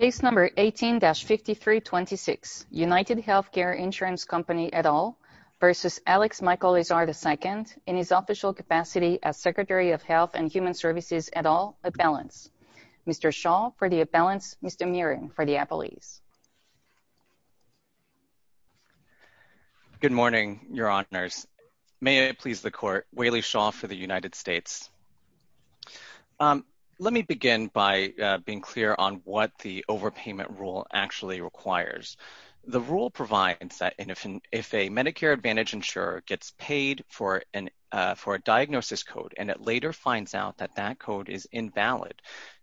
18-5326 UnitedHealthcare Insurance Co et al. v. Alex Michael Azar II, in his official capacity as Secretary of Health and Human Services et al., at Balance. Mr. Shaw for the at Balance, Mr. Mirren for the Appellees. Good morning, Your Honors. May it please the being clear on what the overpayment rule actually requires. The rule provides that if a Medicare Advantage insurer gets paid for a diagnosis code and it later finds out that that code is invalid,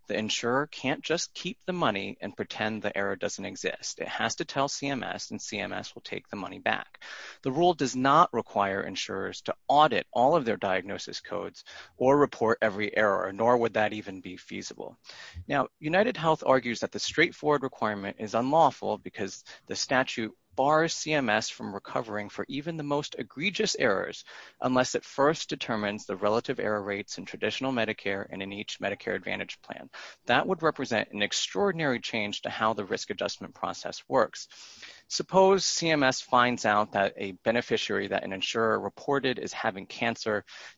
the insurer can't just keep the money and pretend the error doesn't exist. It has to tell CMS and CMS will take the money back. The rule does not require insurers to audit all of their diagnosis codes or report every error, nor would that even be feasible. Now, UnitedHealth argues that the straightforward requirement is unlawful because the statute bars CMS from recovering for even the most egregious errors unless it first determines the relative error rates in traditional Medicare and in each Medicare Advantage plan. That would represent an extraordinary change to how the risk adjustment process works. Suppose CMS finds out that a beneficiary that an insurer reported is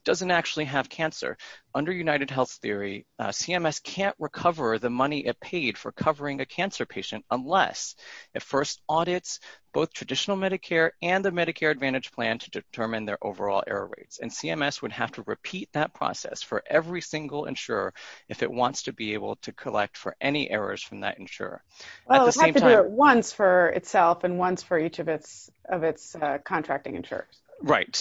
doesn't actually have cancer. Under UnitedHealth's theory, CMS can't recover the money it paid for covering a cancer patient unless it first audits both traditional Medicare and the Medicare Advantage plan to determine their overall error rates. And CMS would have to repeat that process for every single insurer if it wants to be able to collect for any errors from that insurer. Well, it has to do it once for itself and once for each of its contracting insurers. Right.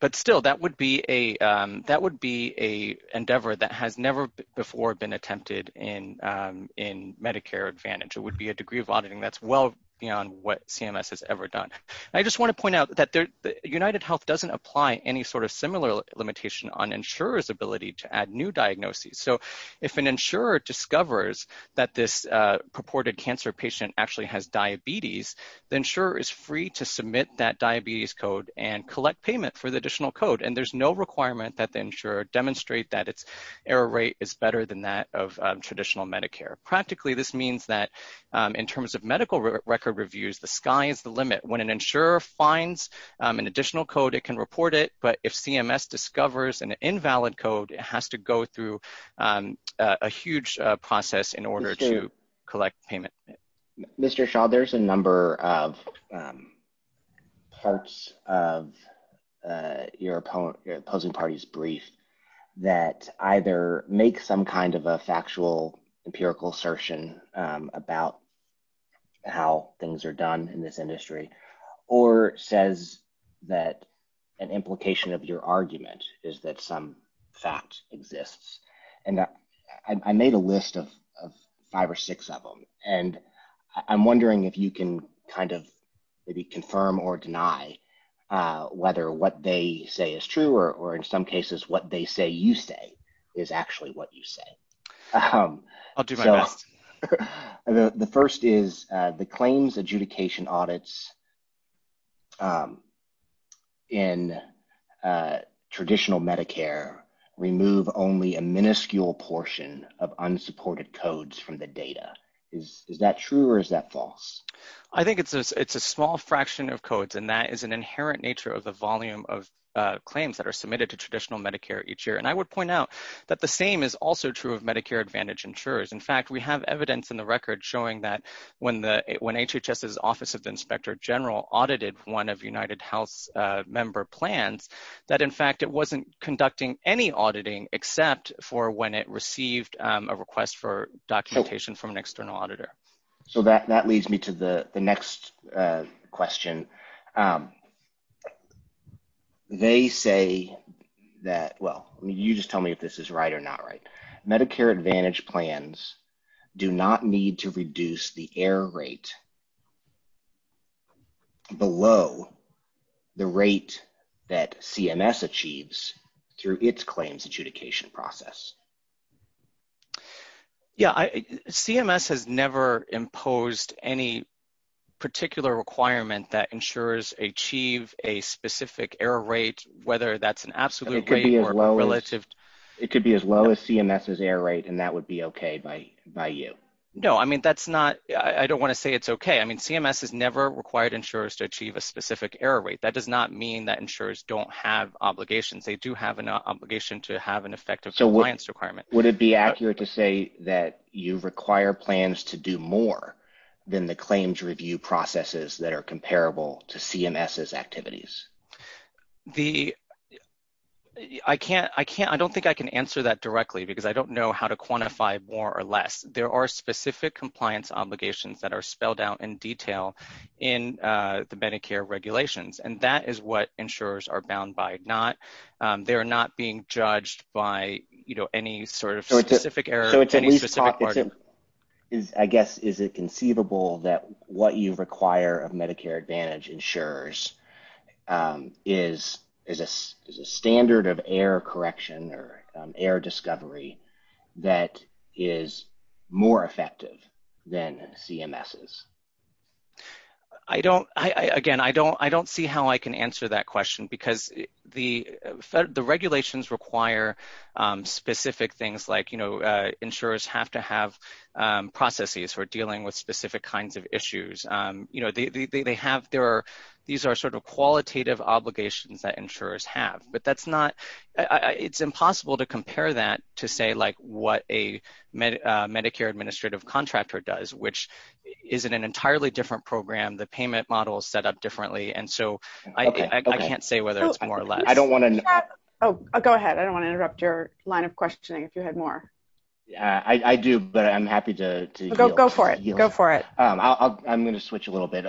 But still, that would be an endeavor that has never before been attempted in Medicare Advantage. It would be a degree of auditing that's well beyond what CMS has ever done. I just want to point out that UnitedHealth doesn't apply any sort of similar limitation on insurers' ability to add new diagnoses. So, if an insurer discovers that this purported cancer patient actually has diabetes, the insurer is free to submit that diabetes code and collect payment for the additional code. And there's no requirement that the insurer demonstrate that its error rate is better than that of traditional Medicare. Practically, this means that in terms of medical record reviews, the sky is the limit. When an insurer finds an additional code, it can report it. But if CMS discovers an invalid code, it has to go through a huge process in order to collect payment. Mr. Shaw, there's a number of parts of your opposing party's brief that either make some kind of a factual empirical assertion about how things are done in this industry or says that an implication of your argument is that some fact exists. And I made a five or six of them. And I'm wondering if you can kind of maybe confirm or deny whether what they say is true or in some cases what they say you say is actually what you say. I'll do my best. The first is the claims adjudication audits in traditional Medicare remove only a minuscule portion of unsupported codes from the data. Is that true or is that false? I think it's a small fraction of codes and that is an inherent nature of the volume of claims that are submitted to traditional Medicare each year. And I would point out that the same is also true of Medicare Advantage insurers. In fact, we have evidence in when HHS's Office of the Inspector General audited one of UnitedHealth's member plans that in fact it wasn't conducting any auditing except for when it received a request for documentation from an external auditor. So that leads me to the next question. They say that, well, you just tell me if this is right or not right. Medicare Advantage plans do not need to reduce the error rate below the rate that CMS achieves through its claims adjudication process. Yeah, CMS has never imposed any particular requirement that ensures achieve a specific error rate whether that's an absolute or relative. It could be as low as CMS's error rate and that be okay by you. No, I don't want to say it's okay. CMS has never required insurers to achieve a specific error rate. That does not mean that insurers don't have obligations. They do have an obligation to have an effective compliance requirement. Would it be accurate to say that you require plans to do more than the claims review processes that are comparable to CMS's more or less? There are specific compliance obligations that are spelled out in detail in the Medicare regulations and that is what insurers are bound by. They're not being judged by any sort of specific error. I guess is it conceivable that what you require of Medicare Advantage insurers is a standard of error correction or error discovery that is more effective than CMS's? Again, I don't see how I can answer that question because the regulations require specific things like insurers have to have processes who are dealing with specific kinds of issues. These are sort of qualitative obligations that insurers have. It's impossible to compare that to say like what a Medicare administrative contractor does which is an entirely different program. The payment model is set up differently and so I can't say whether it's more or less. Go ahead. I don't want to interrupt your line of questioning if you had more. I do but I'm happy to go for it. Go for it. I'm going to switch a little bit.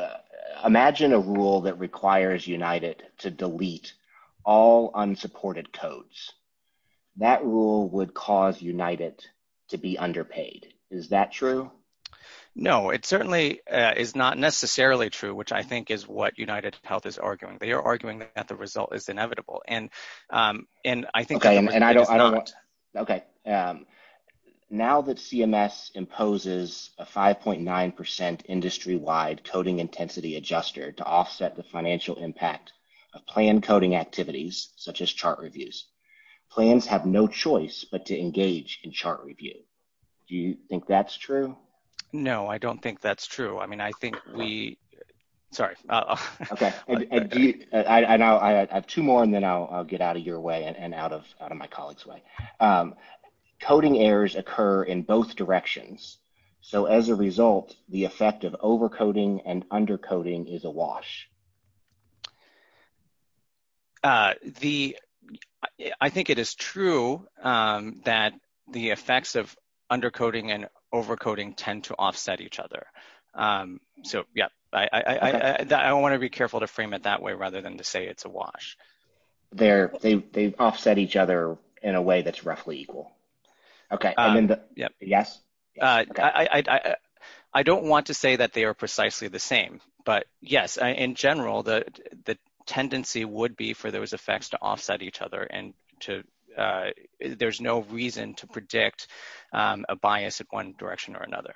Imagine a rule that requires United to delete all unsupported codes. That rule would cause United to be underpaid. Is that true? No, it certainly is not necessarily true which I think is what United Health is arguing. They are arguing that the result is inevitable. Now that CMS imposes a 5.9% industry-wide coding intensity adjuster to offset the financial impact of plan coding activities such as chart reviews, plans have no choice but to engage in chart review. Do you think that's true? No, I don't think that's true. I have two more and then I'll get out of your way and out of my colleague's way. Coding errors occur in both directions so as a result the effect of overcoding and undercoding is a wash. I think it is true that the effects of undercoding and overcoding tend to offset each other. I want to be careful to frame it that way rather than to say it's a wash. They offset each other in a way that's roughly equal. I don't want to say that they are precisely the same but yes, in general the tendency would be for those effects to offset each other and there's no reason to predict a bias of one direction or the other.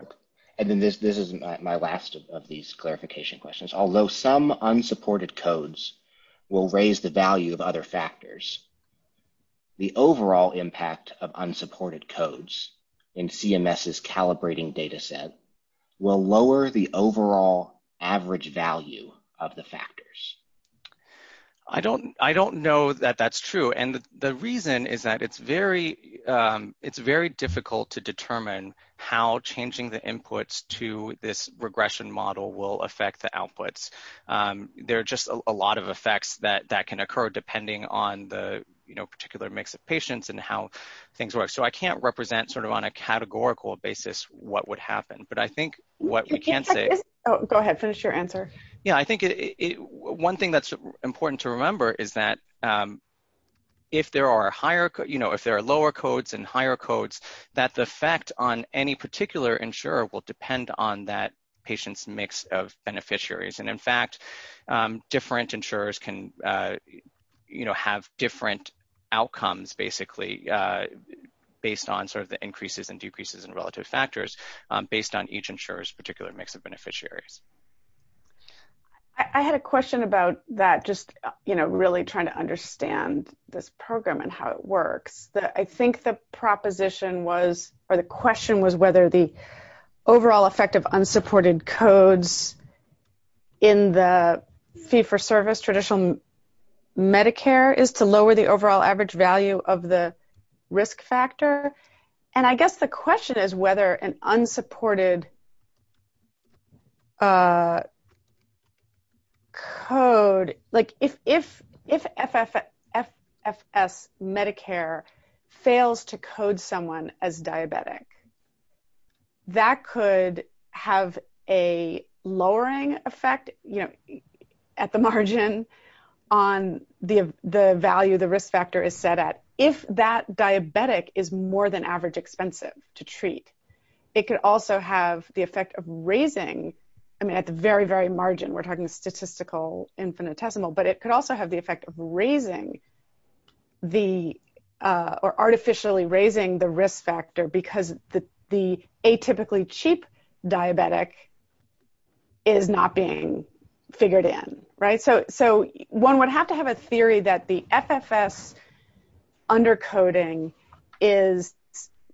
This is my last of these clarification questions. Although some unsupported codes will raise the value of other factors, the overall impact of unsupported codes in CMS's calibrating data set will lower the overall average value of the factors. I don't know that that's true and the reason is that it's very difficult to determine how changing the inputs to this regression model will affect the outputs. There are just a lot of effects that can occur depending on the particular mix of patients and how things work. I can't represent on a categorical basis what would happen but I think what we can say... Go ahead, finish your answer. One thing that's important to remember is that if there are lower codes and higher codes, that the effect on any particular insurer will depend on that patient's mix of beneficiaries. In fact, different insurers can have different outcomes based on the increases and decreases in relative factors based on each insurer's particular mix of beneficiaries. I had a question about that, just really trying to understand this program and how it works. I think the proposition was or the question was whether the overall effect of unsupported codes in the fee-for-service traditional Medicare is to lower the overall average value of the risk factor. I guess the question is whether an unsupported code... If FFS Medicare fails to code someone as diabetic, that could have a lowering effect at the margin on the value the risk factor is set at. If that diabetic is more than average expensive to treat, it could also have the effect of raising... At the very, very margin, we're talking statistical infinitesimal, but it could also have the effect of artificially raising the risk factor because the atypically cheap diabetic is not being figured in. So, one would have to have a theory that the FFS undercoding is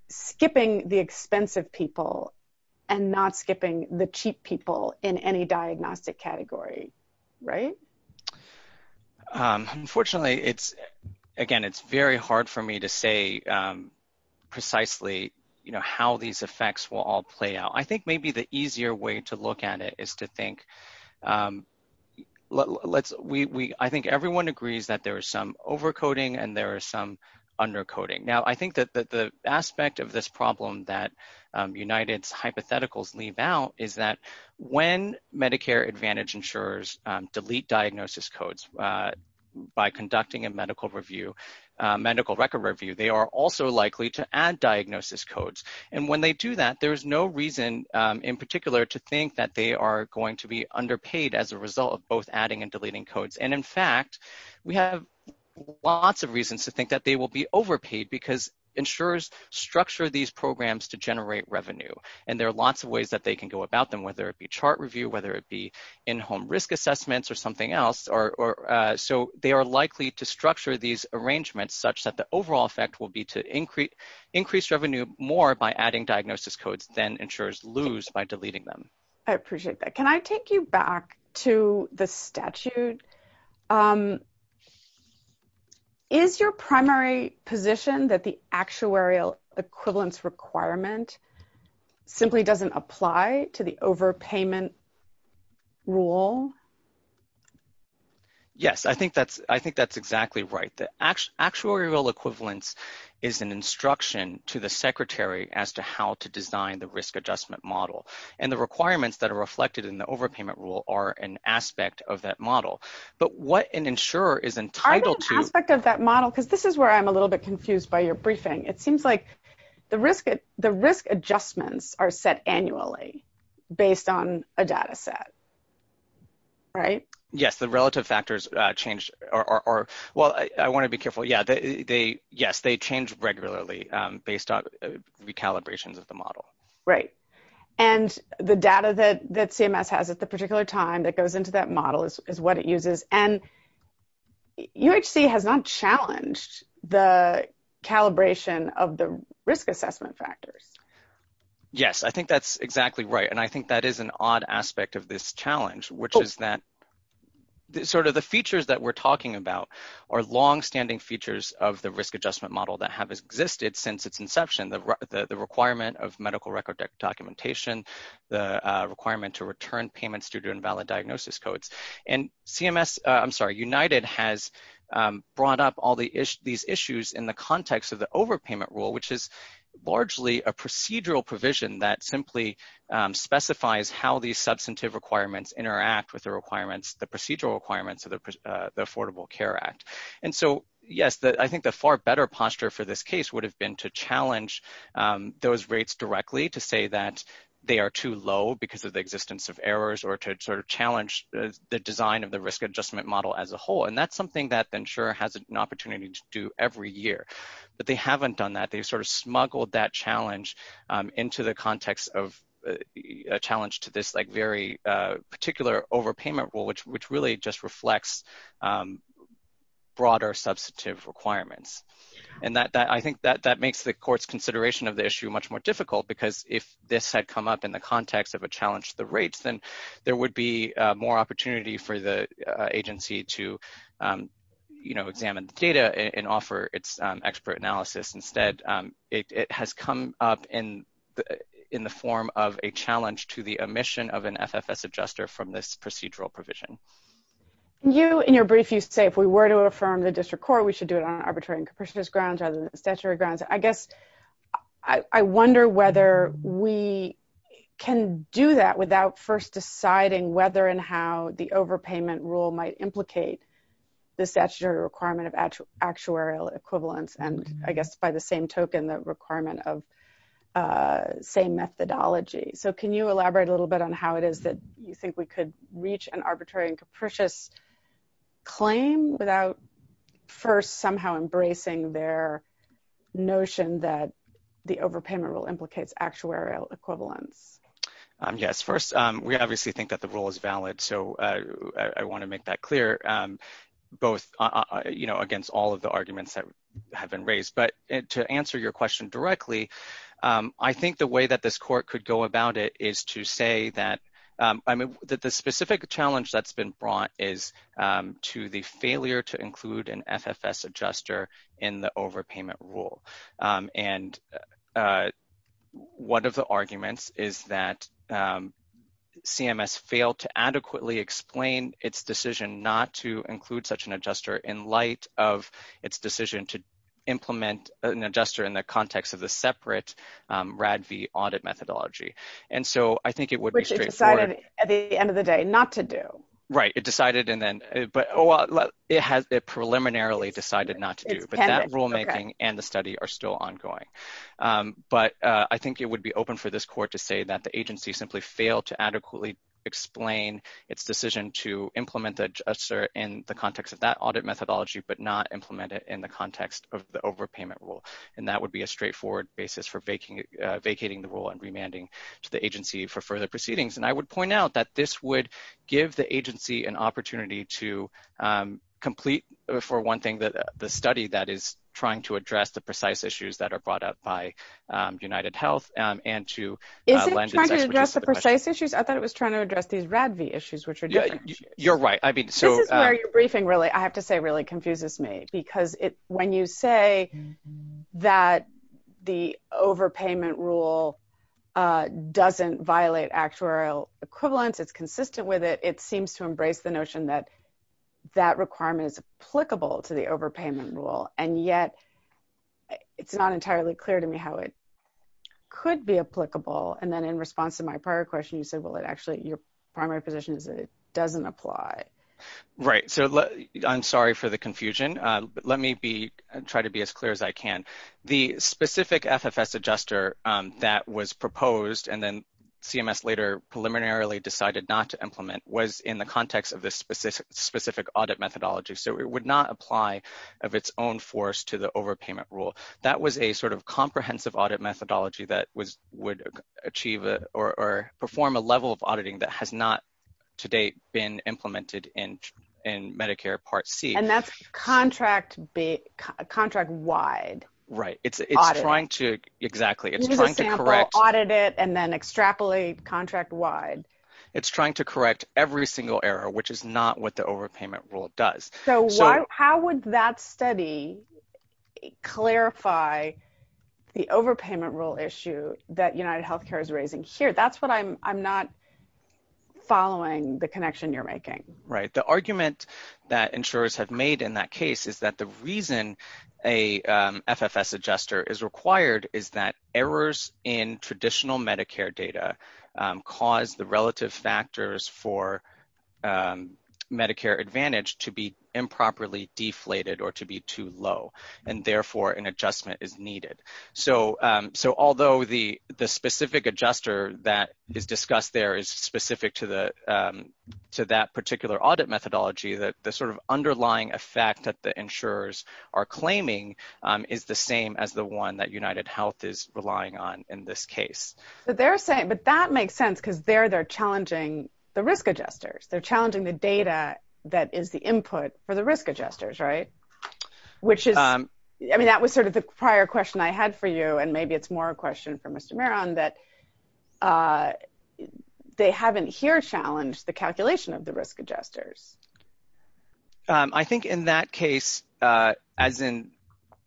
skipping the expensive people and not skipping the cheap people in any diagnostic category. Unfortunately, again, it's very hard for me to say precisely how these effects will all play out. I think maybe the easier way to look at it is to think... I think everyone agrees that there is some overcoding and there is some undercoding. Now, I think that the aspect of this problem that United's hypotheticals leave out is that when Medicare Advantage insurers delete diagnosis codes by conducting a medical record review, they are also likely to add diagnosis codes. When they do that, there's no reason in particular to think that they are going to be underpaid as a result of both adding and deleting codes. In fact, we have lots of reasons to think that they will be overpaid because insurers structure these programs to generate revenue. There are lots of ways that they can go about them, whether it be chart review, whether it be in-home risk assessments, or something else. They are likely to structure these arrangements such that the overall effect will be to increase revenue more by adding diagnosis codes than insurers lose by deleting them. I appreciate that. Can I take you back to the statute? Is your primary position that the actuarial equivalence requirement simply doesn't apply to the overpayment rule? Yes. I think that's exactly right. The actuarial equivalence is an instruction to the secretary as to how to design the risk adjustment model. The requirements that are reflected in the overpayment rule are an aspect of that model. What an insurer is entitled to- Are they an aspect of that model? This is where I'm a little bit confused by your briefing. It seems like the risk adjustments are set annually based on a data set. Right. Yes. The relative factors change. Well, I want to be careful. Yes, they change regularly based on recalibration of the model. Right. The data that CMS has at the particular time that goes into that model is what it uses. UHC has not challenged the calibration of the risk assessment factors. Yes. I think that's exactly right. I think that is an odd aspect of this challenge, which is that the features that we're talking about are longstanding features of the risk adjustment model that have existed since its inception, the requirement of medical record documentation, the requirement to return payments due to invalid diagnosis codes. CMS-I'm sorry, United has brought up all these issues in the context of the how these substantive requirements interact with the procedural requirements of the Affordable Care Act. Yes. I think the far better posture for this case would have been to challenge those rates directly to say that they are too low because of the existence of errors or to challenge the design of the risk adjustment model as a whole. That's something that the insurer has an opportunity to do every year, but they haven't done that. They've smuggled that challenge into the context of a challenge to this very particular overpayment rule, which really just reflects broader substantive requirements. I think that makes the court's consideration of the issue much more difficult because if this had come up in the context of a challenge to the rates, then there would be more opportunity for the agency to examine the data and offer its expert analysis. Instead, it has come up in the form of a challenge to the omission of an FFS adjuster from this procedural provision. You, in your brief, you say, if we were to affirm the district court, we should do it on arbitrary grounds, on statutory grounds. I guess I wonder whether we can do that without first deciding whether and how the overpayment rule might implicate the statutory requirement of actuarial equivalence and, I guess, by the same token, the requirement of same methodology. Can you elaborate a little bit on how it is that you think we could reach an arbitrary and capricious claim without first somehow embracing their notion that the overpayment rule implicates actuarial equivalence? Yes. First, we obviously think that the rule is valid. I want to make that clear against all of the arguments that have been raised. To answer your question directly, I think the way that this court could go about it is to say that the specific challenge that has been brought is to the failure to include an FFS adjuster in the overpayment rule. And one of the arguments is that CMS failed to adequately explain its decision not to include such an adjuster in light of its decision to implement an adjuster in the context of a separate RADV audit methodology. And so, I think it would be straightforward. Which it decided at the end of the day not to do. Right. It decided and then, but it has, it preliminarily decided not to do, but that rulemaking and the study are still ongoing. But I think it would be open for this court to say that the agency simply failed to adequately explain its decision to implement the adjuster in the context of that audit methodology, but not implement it in the context of the overpayment rule. And that would be a straightforward basis for vacating the rule and remanding to the agency for further proceedings. And I would point out that this would give the agency an opportunity to complete, for one thing, the study that is trying to address the precise issues that are brought up by UnitedHealth and to- Is it trying to address the precise issues? I thought it was trying to address these RADV issues, which are different. You're right. I mean, so- This is where your briefing really, I have to say, really confuses me. Because when you say that the overpayment rule doesn't violate actuarial equivalence, it's consistent with it, it seems to embrace the notion that that requirement is applicable to the overpayment rule. And yet, it's not entirely clear to me how it could be applicable. And then in response to my prior question, you said, well, it actually, your primary position is that it doesn't apply. Right. So, I'm sorry for the confusion, but let me try to be as clear as I can. The specific FFS adjuster that was proposed and then CMS later preliminarily decided not to implement was in the context of this specific audit methodology. So, it would not apply of its own force to the overpayment rule. That was a sort of comprehensive audit methodology that would achieve or perform a level of auditing that has not to date been implemented in Medicare Part C. And that's contract-wide audit. Right. It's trying to, exactly. It's trying to correct- You need an example, audit it, and then extrapolate contract-wide. It's trying to correct every single error, which is not what the overpayment rule does. So, how would that study clarify the overpayment rule issue that UnitedHealthcare is raising here? That's what I'm not following the connection you're making. Right. The argument that insurers have made in that case is that the reason a FFS adjuster is required is that errors in traditional Medicare data cause the relative factors for Medicare Advantage to be improperly deflated or to be too low. And therefore, an adjustment is needed. So, although the specific adjuster that is discussed there is specific to that particular audit methodology, the sort of underlying effect that the insurers are claiming is the same as the one that UnitedHealth is relying on in this case. But that makes sense, because there they're challenging the risk adjusters. They're challenging the data that is the input for the risk adjusters, right? I mean, that was sort of the prior question I had for you, and maybe it's more a question for Mr. Maron, that they haven't here challenged the calculation of the risk adjusters. I think in that case, as in,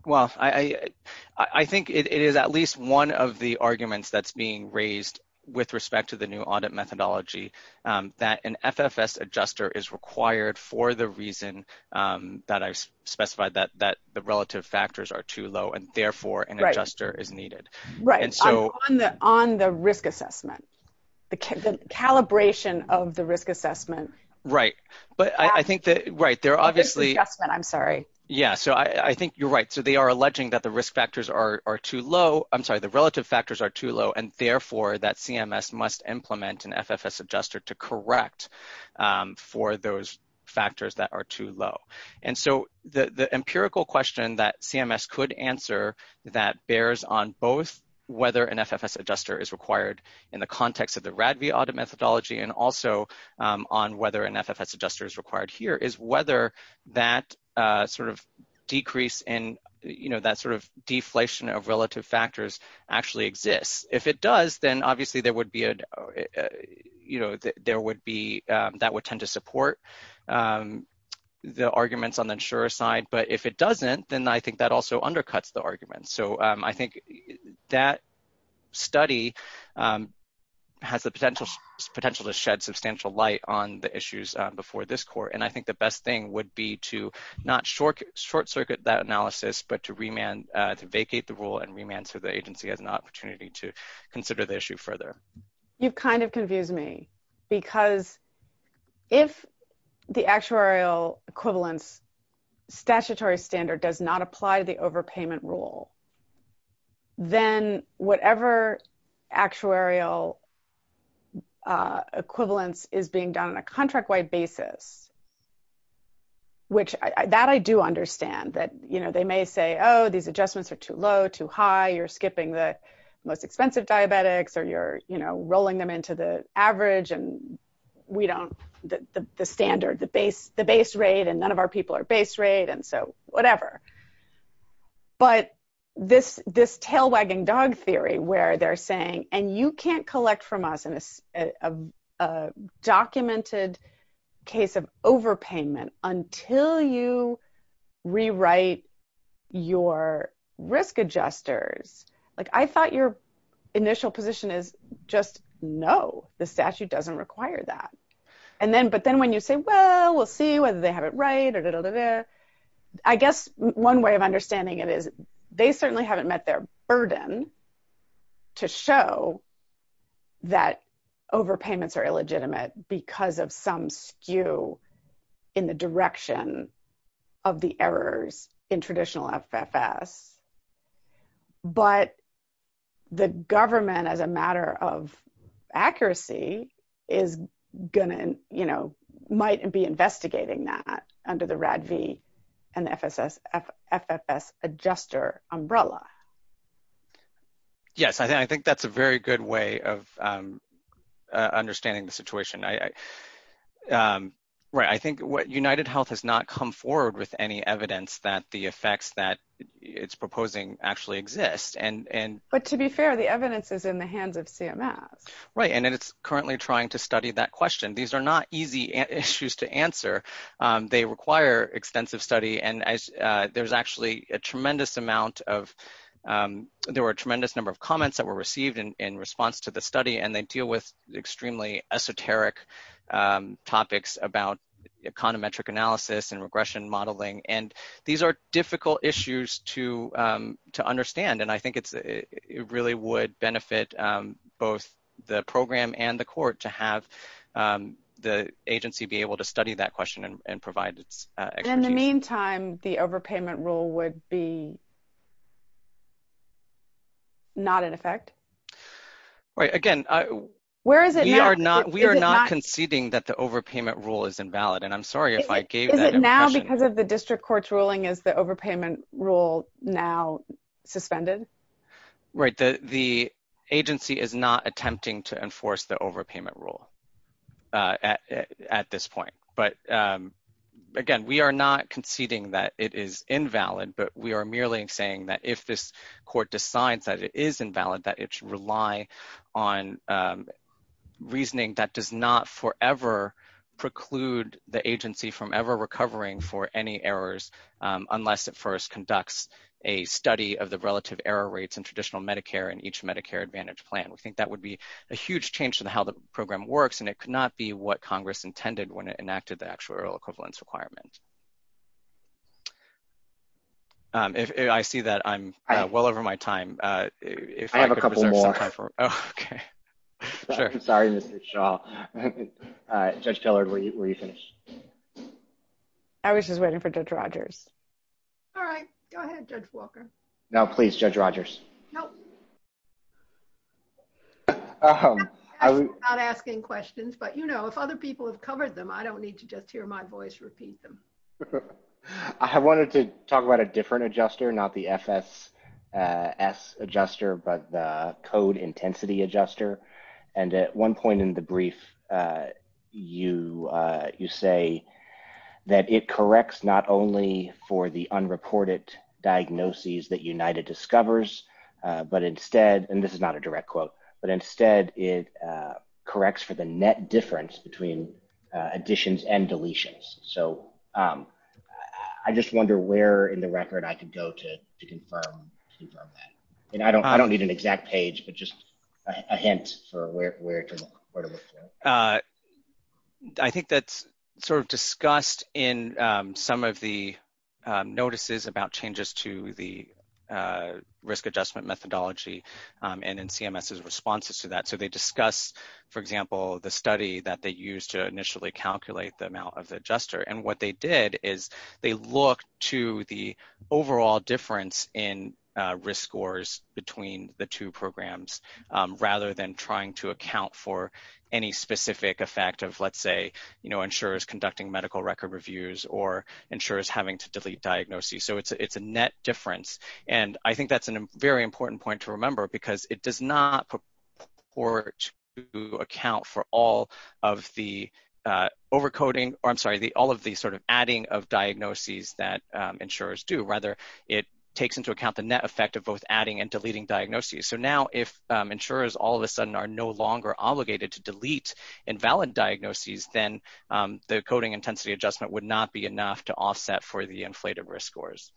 well, I think it is at least one of the arguments that's being raised with respect to the new audit methodology, that an FFS adjuster is required for the reason that I specified, that the relative factors are too low, and therefore, an adjuster is needed. Right. On the risk assessment, the calibration of the risk assessment. Right. But I think that, right, they're obviously- The risk assessment, I'm sorry. Yeah. So, I think you're right. So, they are alleging that the risk factors are too low. I'm sorry, the relative factors are too low, and therefore, that CMS must implement an FFS adjuster to correct for those factors that are too low. And so, the empirical question that CMS could answer that bears on both whether an FFS adjuster is required in the context of the RADV audit methodology, and also on whether an FFS adjuster is required here, is whether that sort of decrease in that sort of deflation of relative factors actually exists. If it does, then obviously, that would tend to support the arguments on the insurer side. But if it doesn't, then I think that also undercuts the argument. So, I think that study has the potential to shed substantial light on the issues before this court. And I think the best thing would be to not short circuit that analysis, but to vacate the rule and remand to the agency as an opportunity to consider the issue further. You've kind of confused me, because if the actuarial equivalence statutory standard does not apply the overpayment rule, then whatever actuarial equivalence is being done on a contract-wide basis, which that I do understand, that they may say, oh, these adjustments are too low, too high, you're skipping the most expensive diabetics, or you're rolling them into the we don't, the standard, the base rate, and none of our people are base rate, and so whatever. But this tail wagging dog theory, where they're saying, and you can't collect from us in a documented case of overpayment until you rewrite your risk adjusters. Like, I thought your And then, but then when you say, well, we'll see whether they have it right or I guess one way of understanding it is they certainly haven't met their burden to show that overpayments are illegitimate because of some skew in the direction of the errors in traditional FFS. But the government, as a matter of accuracy, is going to, you know, might be investigating that under the RADV and FFS adjuster umbrella. Yes, I think that's a very good way of understanding the situation. I think what UnitedHealth has not come forward with any evidence that the effects that it's proposing actually exist. But to be fair, the evidence is in the hands of CMS. Right, and it's currently trying to study that question. These are not easy issues to answer. They require extensive study, and there's actually a tremendous amount of, there were a tremendous number of comments that were received in response to the study, and they deal with extremely esoteric topics about econometric analysis and regression modeling. And these are difficult issues to understand. And I think it really would benefit both the program and the court to have the agency be able to study that question and provide In the meantime, the overpayment rule would be not in effect. Right, again, we are not conceding that the overpayment rule is invalid, and I'm sorry if I gave that impression. Is it now, because of the district court's ruling, is the overpayment rule now suspended? Right, the agency is not attempting to enforce the overpayment rule at this point. But again, we are not conceding that it is invalid, but we are merely saying that if this court decides that it is invalid, that it should rely on reasoning that does not forever preclude the agency from ever recovering for any errors unless it first conducts a study of the relative error rates in traditional Medicare and each Medicare Advantage plan. We think that would be a huge change in how the program works, and it could not be what Congress intended when it was in effect. Sorry, Mr. Shaw. Judge Tillard, were you finished? I was just waiting for Judge Rogers. All right, go ahead, Judge Walker. No, please, Judge Rogers. I'm not asking questions, but, you know, if other people have covered them, I don't need to just hear my voice repeat them. I wanted to talk about a different adjuster, not the FSS adjuster, but the code intensity adjuster. And at one point in the brief, you say that it corrects not only for the unreported diagnoses that United discovers, but instead, and this is not a direct quote, but instead it corrects for net difference between additions and deletions. So, I just wonder where in the record I could go to confirm that. And I don't need an exact page, but just a hint for where to refer. I think that's sort of discussed in some of the notices about changes to the study that they used to initially calculate the amount of the adjuster. And what they did is they looked to the overall difference in risk scores between the two programs, rather than trying to account for any specific effect of, let's say, you know, insurers conducting medical record reviews or insurers having to delete diagnoses. So, it's a net difference. And I think that's a very important point to remember because it does not report to account for all of the over-coding, or I'm sorry, all of the sort of adding of diagnoses that insurers do. Rather, it takes into account the net effect of both adding and deleting diagnoses. So now, if insurers all of a sudden are no longer obligated to delete invalid diagnoses, then the coding intensity adjustment would not be enough to offset for the inflated risk scores.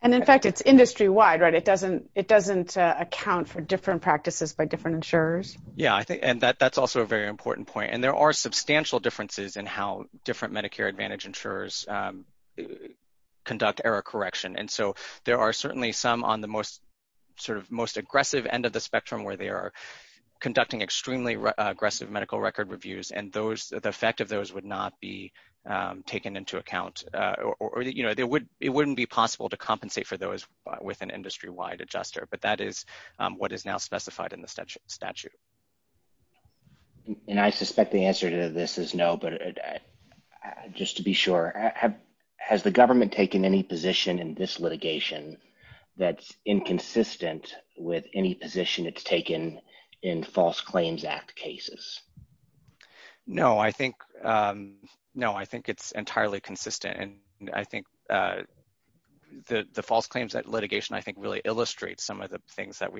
And in fact, it's industry-wide, right? It doesn't account for different practices by different insurers. Yeah, and that's also a very important point. And there are substantial differences in how different Medicare Advantage insurers conduct error correction. And so, there are certainly some on the most aggressive end of the spectrum where they are conducting extremely aggressive medical record reviews, and the effect of those would not be taken into account. Or, you know, it wouldn't be possible to compensate for with an industry-wide adjuster, but that is what is now specified in the statute. And I suspect the answer to this is no, but just to be sure, has the government taken any position in this litigation that's inconsistent with any position it's taken in False Claims Act cases? No, I think it's entirely consistent. And I think the False Claims Act litigation, I think, really illustrates some of the things that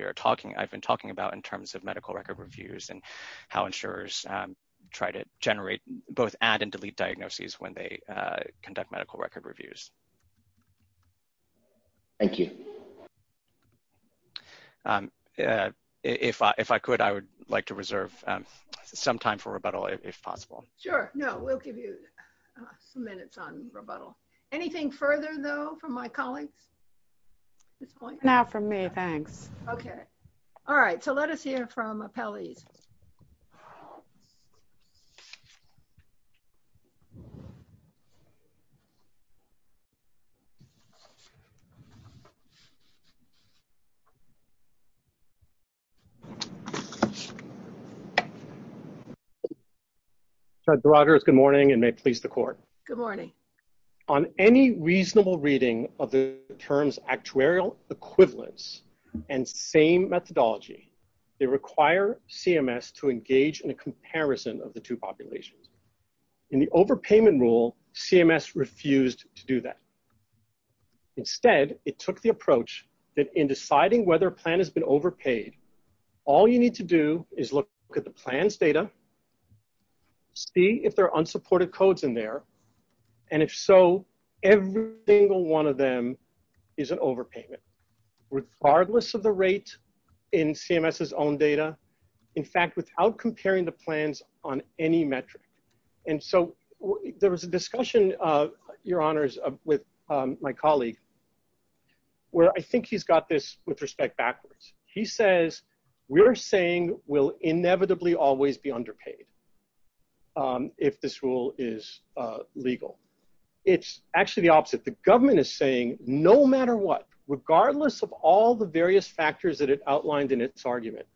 I've been talking about in terms of medical record reviews and how insurers try to generate both add and delete diagnoses when they conduct some type of rebuttal, if possible. Sure. No, we'll give you a minute on rebuttal. Anything further, though, from my colleagues? Not from me, thanks. Okay. All right. So, let us hear from Apelli. Judge DeRoggers, good morning, and may it please the Court. Good morning. On any reasonable reading of the terms actuarial equivalence and fame methodology, they require CMS to engage in a comparison of the two populations. In the overpayment rule, CMS refused to do that. Instead, it took the approach that in deciding whether a plan has been overpaid, all you need to do is look at the plan's data, see if there are unsupported codes in there, and if so, every single one of them is an overpayment, regardless of the rate in CMS's own data, in fact, without comparing the plans on any metric. And so, there was a discussion, Your Honors, with my colleague where I think he's got this with respect backwards. He says, we're saying we'll inevitably always be underpaid if this rule is legal. It's actually the opposite. The government is saying, no matter what, regardless of all the various factors that it outlined in its argument,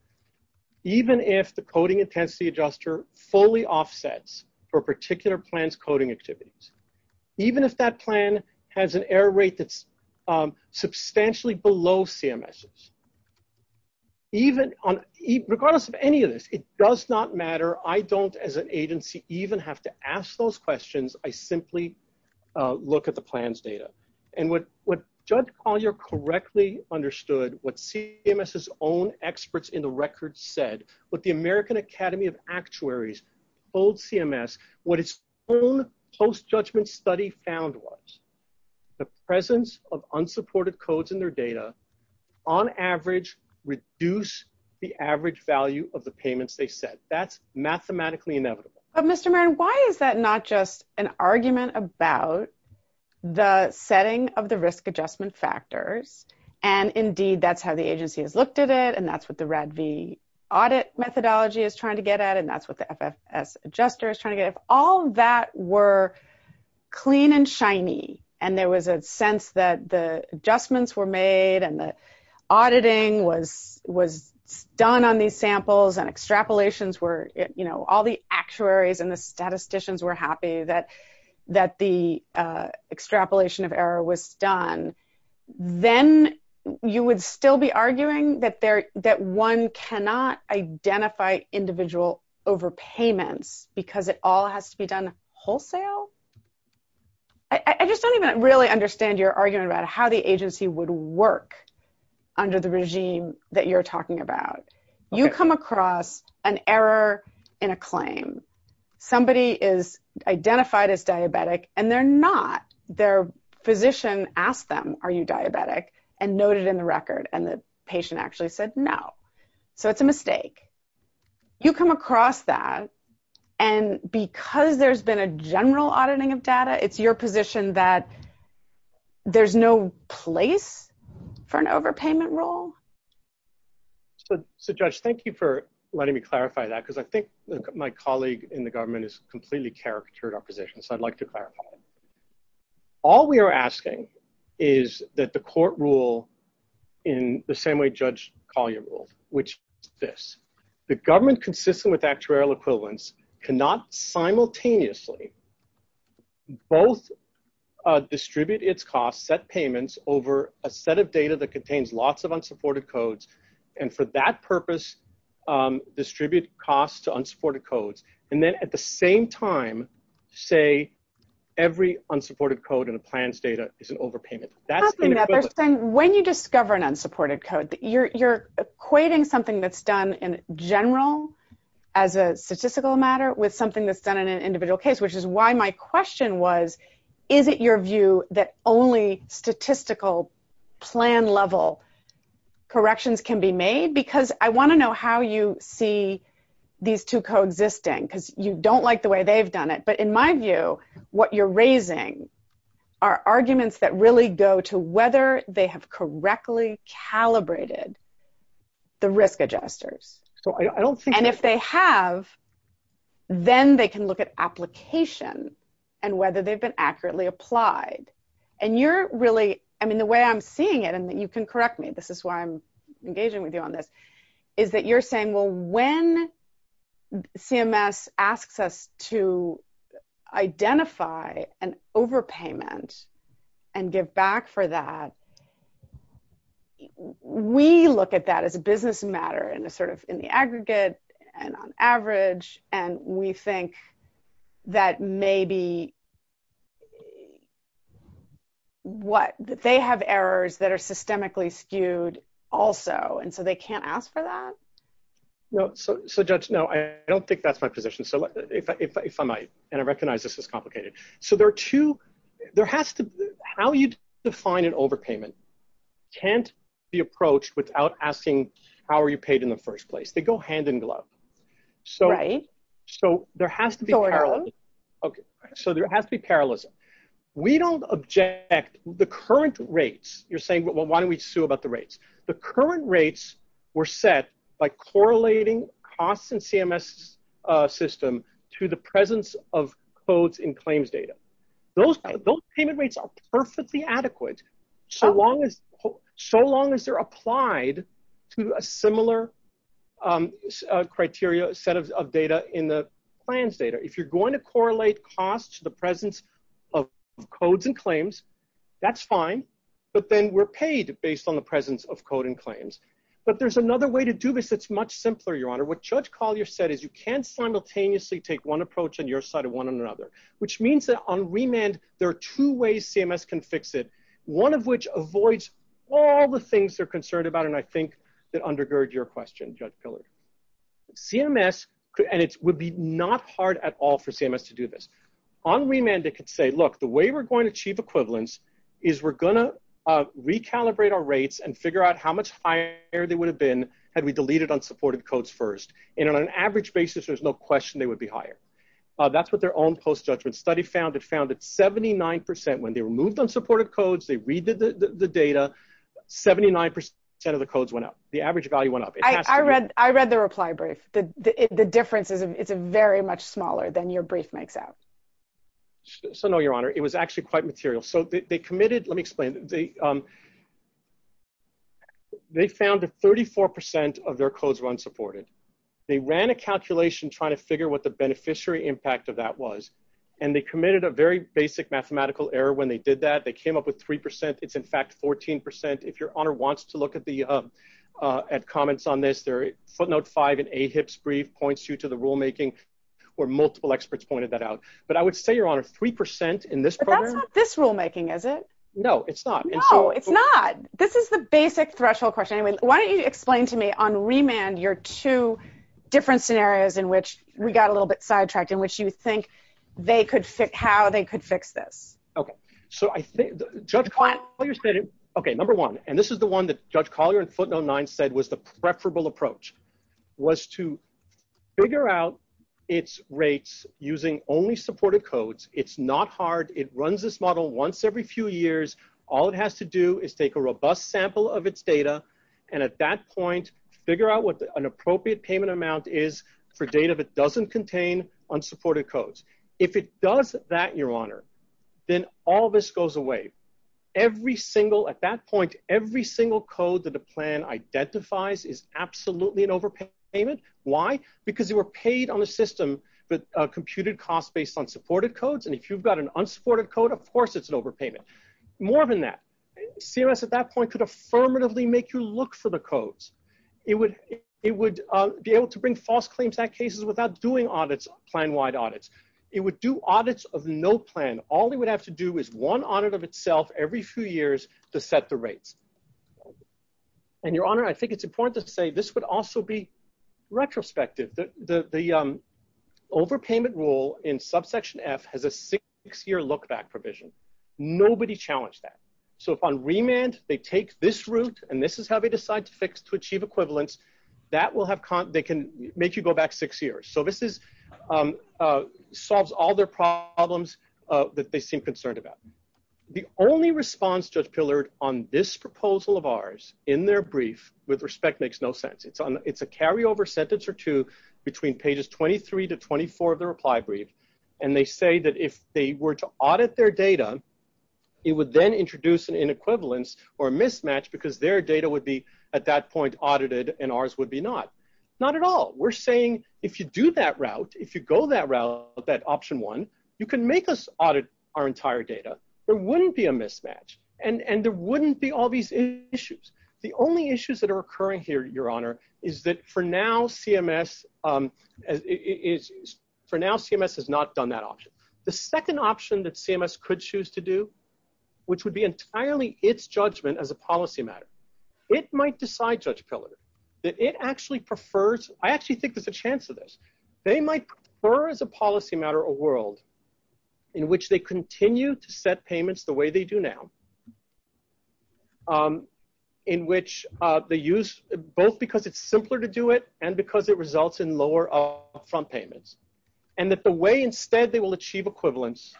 even if the coding intensity adjuster fully offsets for a particular plan's coding activities, even if that plan has an error rate that's substantially below CMS's, regardless of any of this, it does not matter. I don't, as an agency, even have to ask those questions. I simply look at the plan's data. And what Judge Collier correctly understood, what CMS's own experts in the record said, what the American Academy of Actuaries told CMS, what its own post-judgment study found was, the presence of unsupported codes in their data, on average, reduce the average value of the payments they set. That's mathematically inevitable. But Mr. Marin, why is that not just an argument about the setting of the risk adjustment factors and, indeed, that's how the agency has looked at it, and that's what the RADV audit methodology is trying to get at, and that's what the FSS adjuster is trying to get at. All of that were clean and shiny, and there was a sense that the adjustments were made and that auditing was done on these samples and extrapolations were, you know, all the actuaries and the statisticians were happy that the extrapolation of error was done. Then you would still be arguing that one cannot identify individual overpayments because it all has to be done wholesale? I just don't even really understand your argument about how the agency would work under the regime that you're talking about. You come across an error in a claim. Somebody is identified as diabetic, and they're not. Their physician asked them, are you diabetic, and noted in the record, and the patient actually said no. So it's a mistake. You come across that, and because there's been a general auditing of data, it's your position that there's no place for an overpayment rule? So, Judge, thank you for letting me clarify that because I think my colleague in the government has completely caricatured our position. So I'd like to clarify. All we are asking is that the court rule in the same way Judge Collier ruled, which is this. The government, consistent with actuarial equivalence, cannot simultaneously both distribute its costs, set payments, over a set of data that contains lots of unsupported codes, and for that purpose distribute costs to unsupported codes, and then at the same time say every unsupported code in a plan's data is an overpayment. When you discover an unsupported code, you're equating something that's done in general as a statistical matter with something that's done in an individual case, which is why my question was, is it your view that only statistical plan-level corrections can be made? Because I want to know how you see these two codes existing because you don't like the way they've done it, but in my view what you're raising are arguments that really go to whether they have correctly calibrated the risk adjusters. And if they have, then they can look at application and whether they've accurately applied. And you're really, I mean, the way I'm seeing it, and you can correct me, this is why I'm engaging with you on this, is that you're saying, well, when CMS asks us to identify an overpayment and give back for that, we look at that as a business matter and sort of in the what, they have errors that are systemically skewed also, and so they can't ask for that? No, so Judge, no, I don't think that's my position. So if I might, and I recognize this was complicated. So there are two, there has to be, how you define an overpayment can't be approached without asking how are you paid in the first place. They go hand in glove. So there has to be parallelism. We don't object, the current rates, you're saying, well, why don't we sue about the rates? The current rates were set by correlating costs in CMS system to the presence of quotes in claims data. Those payment rates are perfectly adequate, so long as they're applied to a similar criteria set of data in the plans data. If you're going to correlate costs to the presence of codes and claims, that's fine, but then we're paid based on the presence of code and claims. But there's another way to do this that's much simpler, Your Honor. What Judge Collier said is you can't simultaneously take one approach on your side of one another, which means that on remand, there are two ways CMS can fix it, one of which avoids all the things they're concerned about, and I think that undergirds your question, Judge Pilley. CMS, and it would be not hard at all for CMS to do this. On remand, they could say, look, the way we're going to achieve equivalence is we're going to recalibrate our rates and figure out how much higher they would have been had we deleted unsupported codes first. And on an average basis, there's no question they would be higher. That's what their own post-judgment study found. They found that 79%, when they removed unsupported codes, they redid the data, 79% of the codes went up. The average value went up. I read the reply, Bruce. The difference is it's very much smaller than your brief makes out. So no, Your Honor. It was actually quite material. So they committed, let me explain. They found that 34% of their codes were unsupported. They ran a calculation trying to figure what the beneficiary impact of that was, and they committed a very basic mathematical error when they did that. They came up with 3%. It's, in fact, 14%. If Your Honor wants to look at comments on this, Footnote 5 in AHIP's brief points you to the rulemaking, where multiple experts pointed that out. But I would say, Your Honor, 3% in this program— But that's not this rulemaking, is it? No, it's not. No, it's not. This is the basic threshold question. Why don't you explain to me, on remand, your two different scenarios in which we got a little bit sidetracked, in which you think how they could fix this? Okay, so I think Judge Collier said it. Okay, number one, and this is the one that Judge Collier in Footnote 9 said was the preferable approach, was to figure out its rates using only supported codes. It's not hard. It runs this model once every few years. All it has to do is take a robust sample of its data and, at that point, figure out what an appropriate payment amount is for data that doesn't contain unsupported codes. If it does that, Your Honor, then all this goes away. At that point, every single code that the plan identifies is absolutely an overpayment. Why? Because they were paid on the system with computed costs based on supported codes, and if you've got an unsupported code, of course it's an overpayment. More than that, CMS, at that point, could affirmatively make you look for the codes. It would be able to bring false claims to that case without doing audits, plan-wide audits. It would do audits of no plan. All they would have to do is one audit of itself every few years to set the rates. And, Your Honor, I think it's important to say this would also be retrospective. The overpayment rule in Subsection F has a six-year look-back provision. Nobody challenged that. So, if on remand they take this route and this is how they decide to fix to achieve equivalence, that will have, they can make you go back six years. So, this is, solves all their problems that they seem concerned about. The only response, Judge Pillard, on this proposal of ours in their brief, with respect, makes no sense. It's a carryover sentence or two between pages 23 to 24 of the reply brief, and they say that if they were to audit their data, it would then introduce an inequivalence or a mismatch because their data would be, at that point, audited and ours would be not. Not at all. We're saying if you do that route, if you go that route, that option one, you can make us audit our entire data. There wouldn't be a mismatch, and there wouldn't be all these issues. The only issues that are occurring here, Your Honor, is that for now, CMS is, for now, CMS has not done that option. The second option that CMS could choose to do, which would be entirely its judgment as a policy matter, it might decide, Judge Pillard, that it actually prefers, I actually think there's a chance of this, they might prefer as a policy matter a world in which they continue to set payments the way they do now, in which they use, both because it's simpler to do it and because it results in lower upfront payments, and that the way instead they will achieve equivalence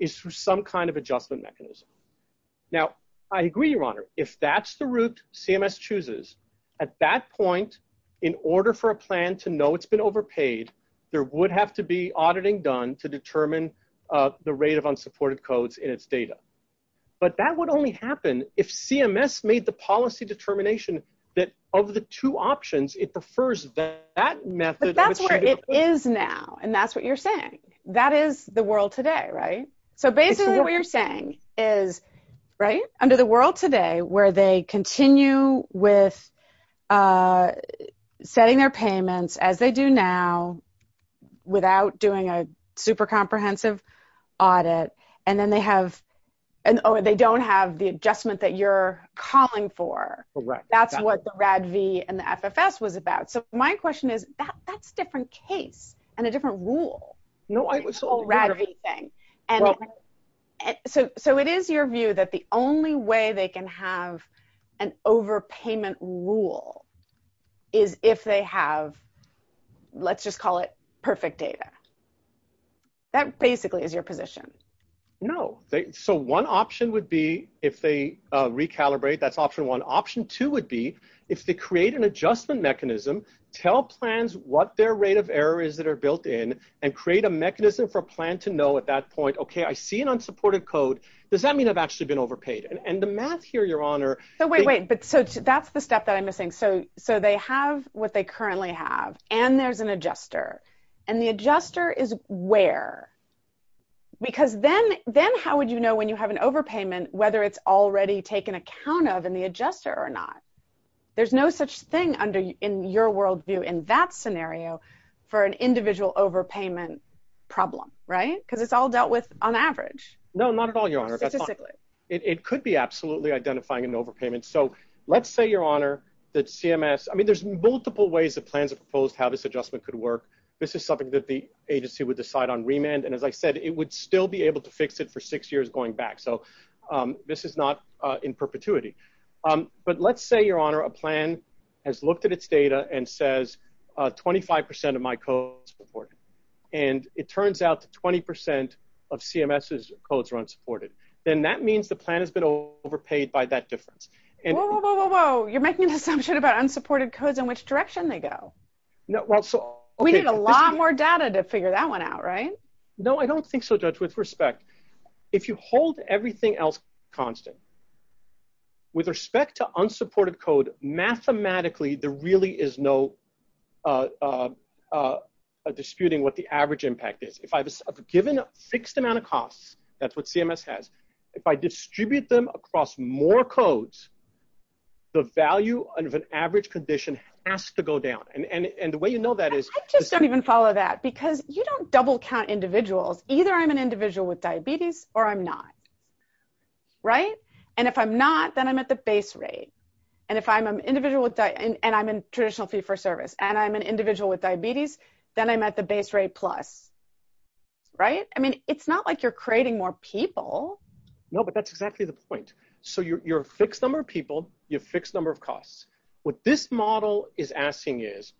is through some kind of adjustment mechanism. Now, I agree, Your Honor. If that's the route CMS chooses, at that point, in order for a plan to know it's been overpaid, there would have to be auditing done to determine the rate of unsupported codes in its data. But that would only happen if CMS made the policy determination that of the two options, it prefers that method. But that's where it is now, and that's what you're saying. That is the world today, right? So basically what you're saying is, right, under the world today, where they continue with setting their payments as they do now, without doing a super comprehensive audit, and then they have, or they don't have the adjustment that you're calling for. That's what the RADV and the FFS was about. So my question is, that's a different case and a different rule. No, it's a whole RADV thing. So it is your view that the only way they can have an overpayment rule is if they have, let's just call it perfect data. That basically is your position. No. So one option would be, if they recalibrate, that's option one. Option two would be, if they create an adjustment mechanism, tell plans what their rate of error is that are built in, and create a mechanism for a plan to know at that point, okay, I see an unsupported code. Does that mean I've actually been overpaid? And the math here, Your Honor- So wait, wait. So that's the step that I'm missing. So they have what they currently have, and there's an adjuster. And the adjuster is where? Because then how would you know when you have an overpayment, whether it's already taken account of in the adjuster or not? There's no such thing in your worldview in that scenario for an individual overpayment problem, right? Because it's all dealt with on average. No, not at all, Your Honor. It could be absolutely identifying an overpayment. So let's say, Your Honor, that CMS- I mean, there's multiple ways that plans have proposed how this adjustment could work. This is something that the agency would decide on remand. And as I said, it would still be able to fix it for six years going back. So this is not in perpetuity. But let's say, Your Honor, a plan has looked at its data and says, 25% of my codes are unsupported. And it turns out that 20% of CMS's codes are unsupported. Then that means the plan has been overpaid by that difference. Whoa, whoa, whoa, whoa, whoa. You're making an assumption about unsupported codes and which direction they go. We need a lot more data to figure that one out, right? No, I don't think so, Judge. With respect, if you hold everything else constant, with respect to unsupported code, mathematically, there really is no disputing what the average impact is. If I was given a fixed amount of costs, that's what CMS has. If I distribute them across more codes, the value of an average condition has to go down. And the way you know that is- I just don't even follow that because you don't double count individuals. Either I'm an individual with diabetes or I'm not, right? And if I'm not, then I'm at the base rate. And if I'm an individual with- and I'm in traditional fee-for-service, and I'm an individual with diabetes, then I'm at the base rate plus, right? I mean, it's not like you're creating more people. No, but that's exactly the point. So you're a fixed number of people, you have a fixed number of costs. What this model is asking is,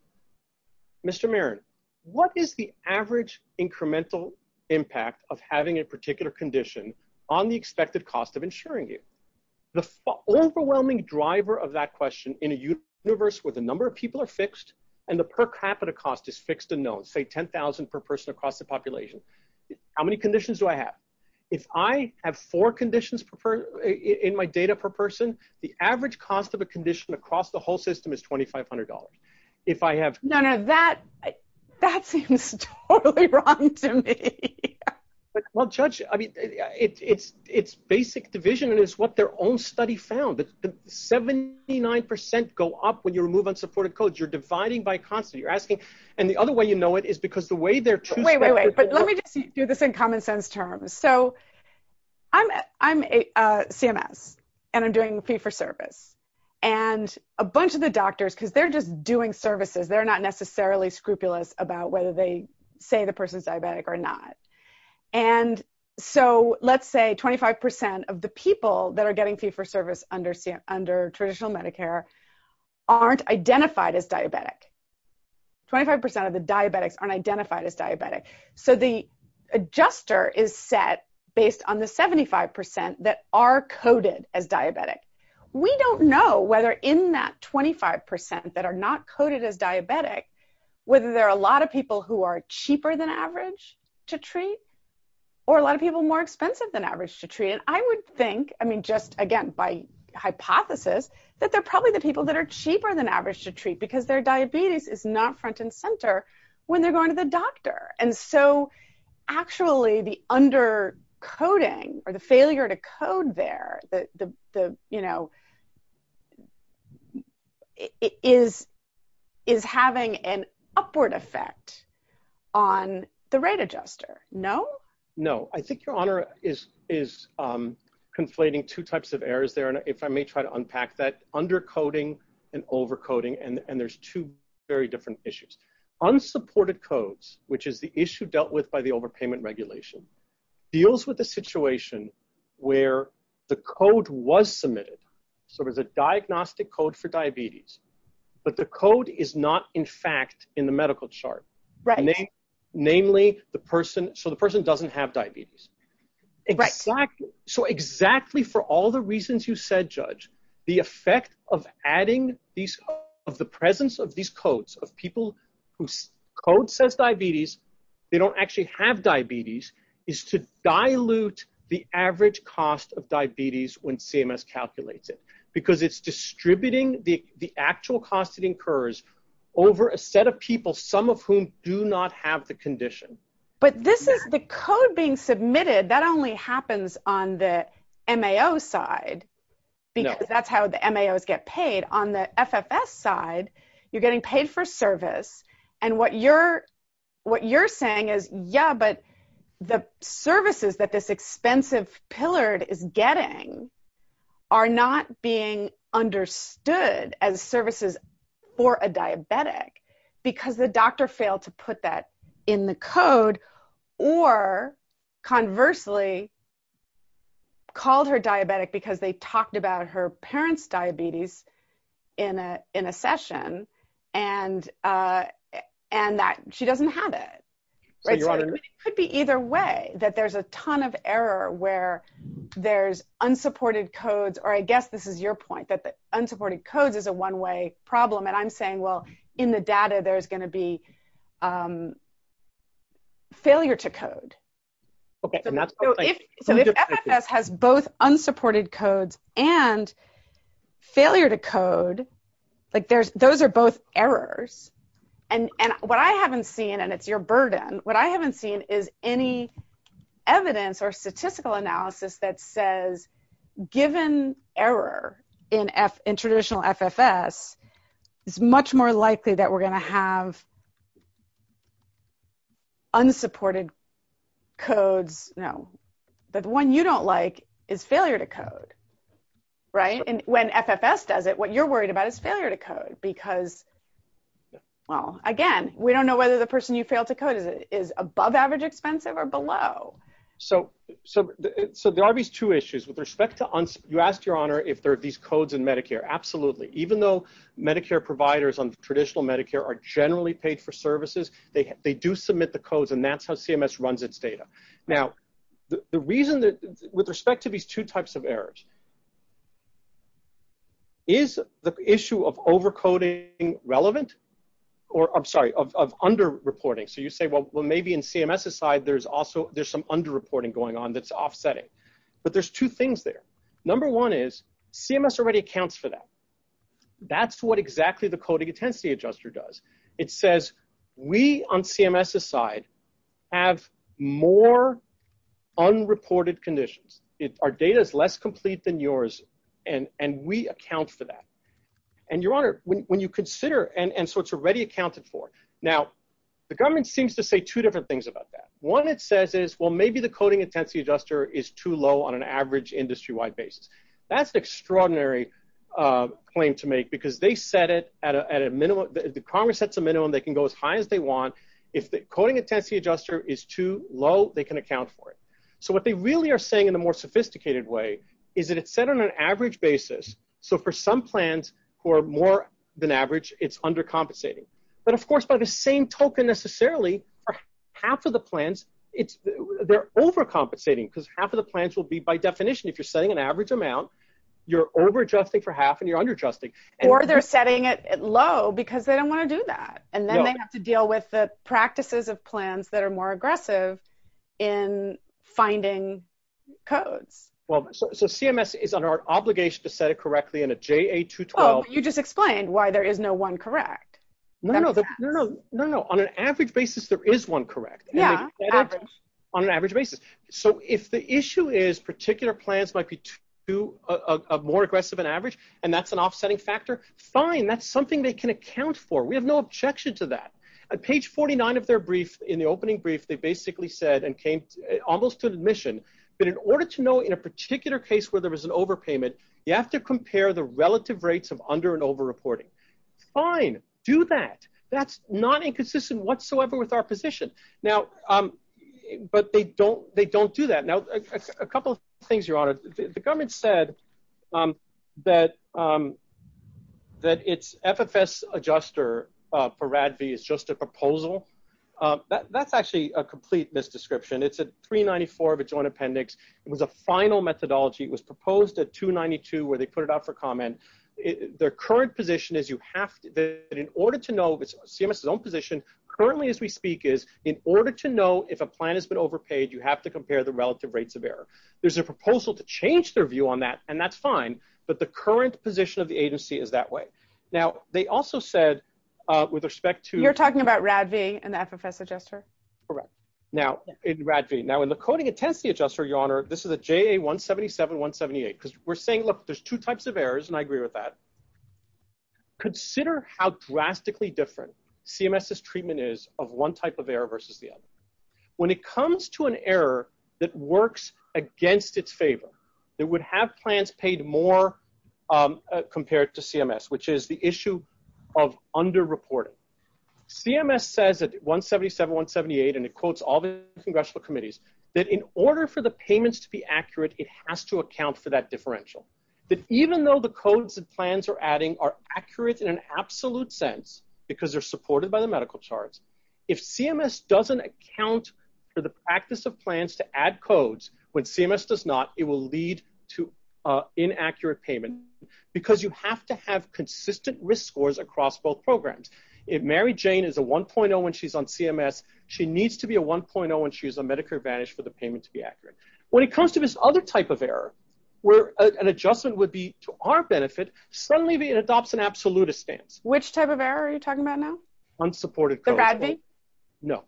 Mr. Marin, what is the average incremental impact of having a particular condition on the expected cost of insuring it? The overwhelming driver of that question, in a universe where the number of people are fixed and the per capita cost is fixed and known, say 10,000 per person across the population, how many conditions do I have? If I have four conditions in my data per person, the average cost of a condition across the whole system is $2,500. None of that. That seems totally wrong to me. Well, Judge, I mean, it's basic division, and it's what their own study found. 79% go up when you remove unsupported codes. You're dividing by cost. You're asking, and the other way you know it is because the way they're- Wait, wait, wait. Let me just do this in common sense terms. So I'm a CMS, and I'm doing fee-for-service. And a bunch of the doctors, because they're just doing services, they're not necessarily scrupulous about whether they say the person's diabetic or not. And so let's say 25% of the people that are getting fee-for-service under traditional Medicare aren't identified as diabetic. 25% of the diabetics aren't identified as diabetic. So the adjuster is set based on the 75% that are coded as diabetic. We don't know whether in that 25% that are not coded as diabetic, whether there are a lot of people who are cheaper than average to treat or a lot of people more expensive than average to treat. And I would think, I mean, just again by hypothesis, that they're probably the people that are cheaper than average to treat because their diabetes is not front and center when they're going to the doctor. And so actually the under-coding or the failure to code there is having an upward effect on the rate adjuster. No? No. I think your honor is conflating two types of errors there. And if I may try to unpack that, under-coding and over-coding, and there's two very different issues. Unsupported codes, which is the issue dealt with by the overpayment regulation, deals with a situation where the code was submitted. So there's a diagnostic code for diabetes, but the code is not in fact in the medical chart. Namely the person, so the person doesn't have diabetes. So exactly for all the of adding these of the presence of these codes of people whose code says diabetes, they don't actually have diabetes, is to dilute the average cost of diabetes when CMS calculates it. Because it's distributing the actual cost it incurs over a set of people, some of whom do not have the condition. But this is the code being submitted, that only happens on the MAO side because that's how the MAOs get paid. On the FFS side, you're getting paid for service. And what you're saying is, yeah, but the services that this expensive pillard is getting are not being understood as services for a diabetic because the doctor failed to put that in the code. Or conversely, called her diabetic because they talked about her parents' diabetes in a session and that she doesn't have it. It could be either way, that there's a ton of error where there's unsupported codes, or I guess this is your point, that the unsupported codes is a one-way problem. And I'm So if FFS has both unsupported codes and failure to code, those are both errors. And what I haven't seen, and it's your burden, what I haven't seen is any evidence or statistical analysis that says given error in traditional FFS, it's much more likely that we're going to have unsupported codes. No. But the one you don't like is failure to code. Right? And when FFS does it, what you're worried about is failure to code because, well, again, we don't know whether the person you failed to code is above-average expensive or below. So there are these two issues. You asked, Your Honor, if there are these codes in Medicare. Absolutely. Even though Medicare providers on traditional Medicare are generally paid for to submit the codes, and that's how CMS runs its data. Now, the reason that, with respect to these two types of errors, is the issue of over-coding relevant? Or, I'm sorry, of under-reporting. So you say, well, maybe in CMS's side, there's some under-reporting going on that's offsetting. But there's two things there. Number one is CMS already accounts for that. That's what exactly the coding intensity adjuster does. It says, we, on CMS's side, have more unreported conditions. Our data is less complete than yours, and we account for that. And, Your Honor, when you consider, and so it's already accounted for. Now, the government seems to say two different things about that. One, it says is, well, maybe the coding intensity adjuster is too low on an average industry-wide basis. That's an extraordinary claim to make, because they set it at a minimum. If the Congress sets a minimum, they can go as high as they want. If the coding intensity adjuster is too low, they can account for it. So what they really are saying, in a more sophisticated way, is that it's set on an average basis. So for some plans who are more than average, it's undercompensating. But, of course, by the same token, necessarily, half of the plans, they're overcompensating, because half of the plans will be, by definition, if you're setting an average amount, you're over-adjusting for half, and you're under-adjusting. Or they're setting it low, because they don't want to do that. And then they have to deal with the practices of plans that are more aggressive in finding code. Well, so CMS is under obligation to set it correctly in a JA-212. You just explained why there is no one correct. No, no, no, no, no, no. On an average basis, there is one correct. Yeah, average. On an average basis. So if the issue is particular plans might be more aggressive than average, and that's an offsetting factor, fine, that's something they can account for. We have no objection to that. On page 49 of their brief, in the opening brief, they basically said, and came almost to admission, that in order to know in a particular case where there was an overpayment, you have to compare the relative rates of under and over-reporting. Fine, do that. That's not inconsistent whatsoever with our position. Now, but they don't do that. Now, a couple of things, Your Honor. The government said that its FFS adjuster for RADV is just a proposal. That's actually a complete misdescription. It's a 394 of a joint appendix. It was a final methodology. It was proposed at 292, where they put it out for comment. Their current position is you have to, that in order to know, which CMS' own position, currently as we speak is, in order to know if a plan has been overpaid, you have to compare the relative rates of error. There's a proposal to change their view on that, and that's fine, but the current position of the agency is that way. Now, they also said, with respect to- You're talking about RADV and the FFS adjuster? Correct. Now, in RADV. Now, in the coding intensity adjuster, Your Honor, this is a JA-177-178, because we're saying, look, there's two types of errors, and I agree with that. Consider how drastically different CMS' treatment is of one type of error versus the other. When it comes to an error that works against its favor, it would have plans paid more compared to CMS, which is the issue of under-reporting. CMS says at 177-178, and it quotes all the congressional committees, that in order for the payments to be accurate, it has to account for that differential. But even though the codes that plans are adding are accurate in an absolute sense, because they're supported by the medical charts, if CMS doesn't account for the practice of plans to add codes when CMS does not, it will lead to inaccurate payment, because you have to have consistent risk scores across both programs. If Mary Jane is a 1.0 when she's on CMS, she needs to be a 1.0 when she's on Medicare Advantage for the payment to be accurate. When it comes to this other type of error, where an adjustment would be to our benefit, suddenly it adopts an absolutist stance. Which type of error are you talking about now? Unsupported codes. The FADV? No.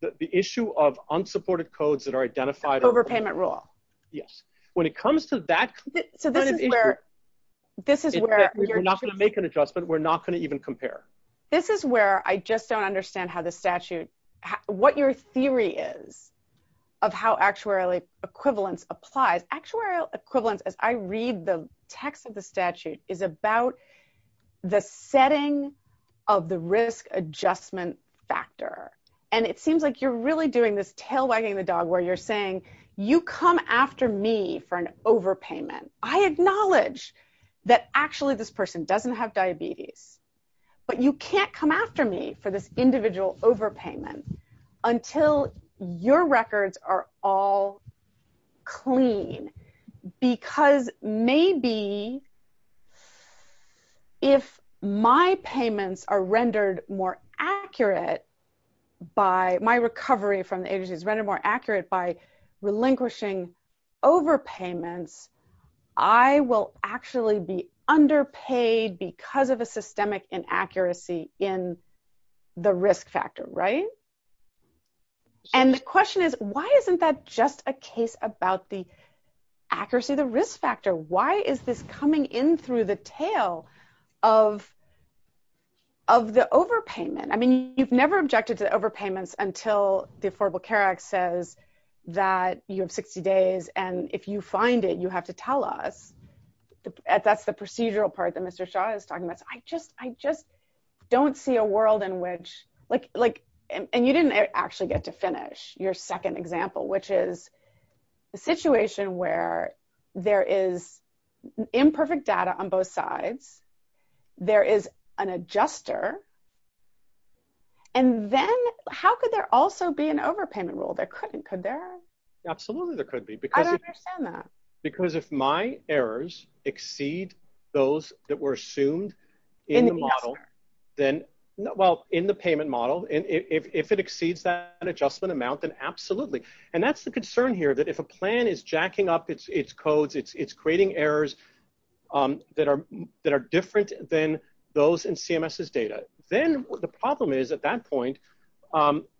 The issue of unsupported codes that are identified... Overpayment rule. Yes. When it comes to that kind of issue, we're not going to make an adjustment, we're not going to even compare. This is where I just don't understand what your theory is of how actuarial equivalence applies. Actuarial equivalence, as I read the text of the statute, is about the setting of the risk adjustment factor. It seems like you're really doing this tail wagging the dog where you're saying, you come after me for an overpayment. I acknowledge that actually this person doesn't have diabetes, but you can't come after me for this individual overpayment until your records are all clean. Because maybe if my payments are rendered more accurate by... My recovery from the agency is rendered more accurate by relinquishing overpayments, I will actually be underpaid because of a systemic inaccuracy in the risk factor, right? Sure. And the question is, why isn't that just a case about the accuracy of the risk factor? Why is this coming in through the tail of the overpayment? I mean, you've never objected to overpayments until the Affordable Care Act says that you have 60 days and if you find it, you have to tell us. That's the procedural part that Mr. Shah is talking about. I just don't see a world in which... You didn't actually get to finish your second example, which is the situation where there is imperfect data on both sides, there is an adjuster, and then how could there also be an overpayment rule? There couldn't, could there? Absolutely there could be. I don't understand that. Because if my errors exceed those that were assumed in the model, then... Well, in the payment model, if it exceeds that adjustment amount, then absolutely. And that's the concern here, that if a plan is jacking up its codes, it's creating errors that are different than those in CMS's data. Then the problem is, at that point,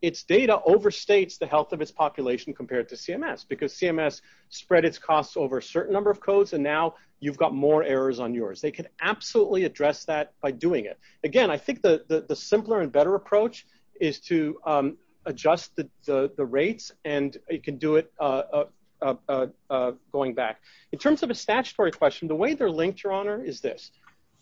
its data overstates the health of its population compared to CMS, because CMS spread its costs over a certain number of codes and now you've got more errors on yours. They can absolutely address that by doing it. Again, I think the simpler and better approach is to adjust the rates and it can do it going back. In terms of a statutory question, the way they're linked, Your Honor, is this.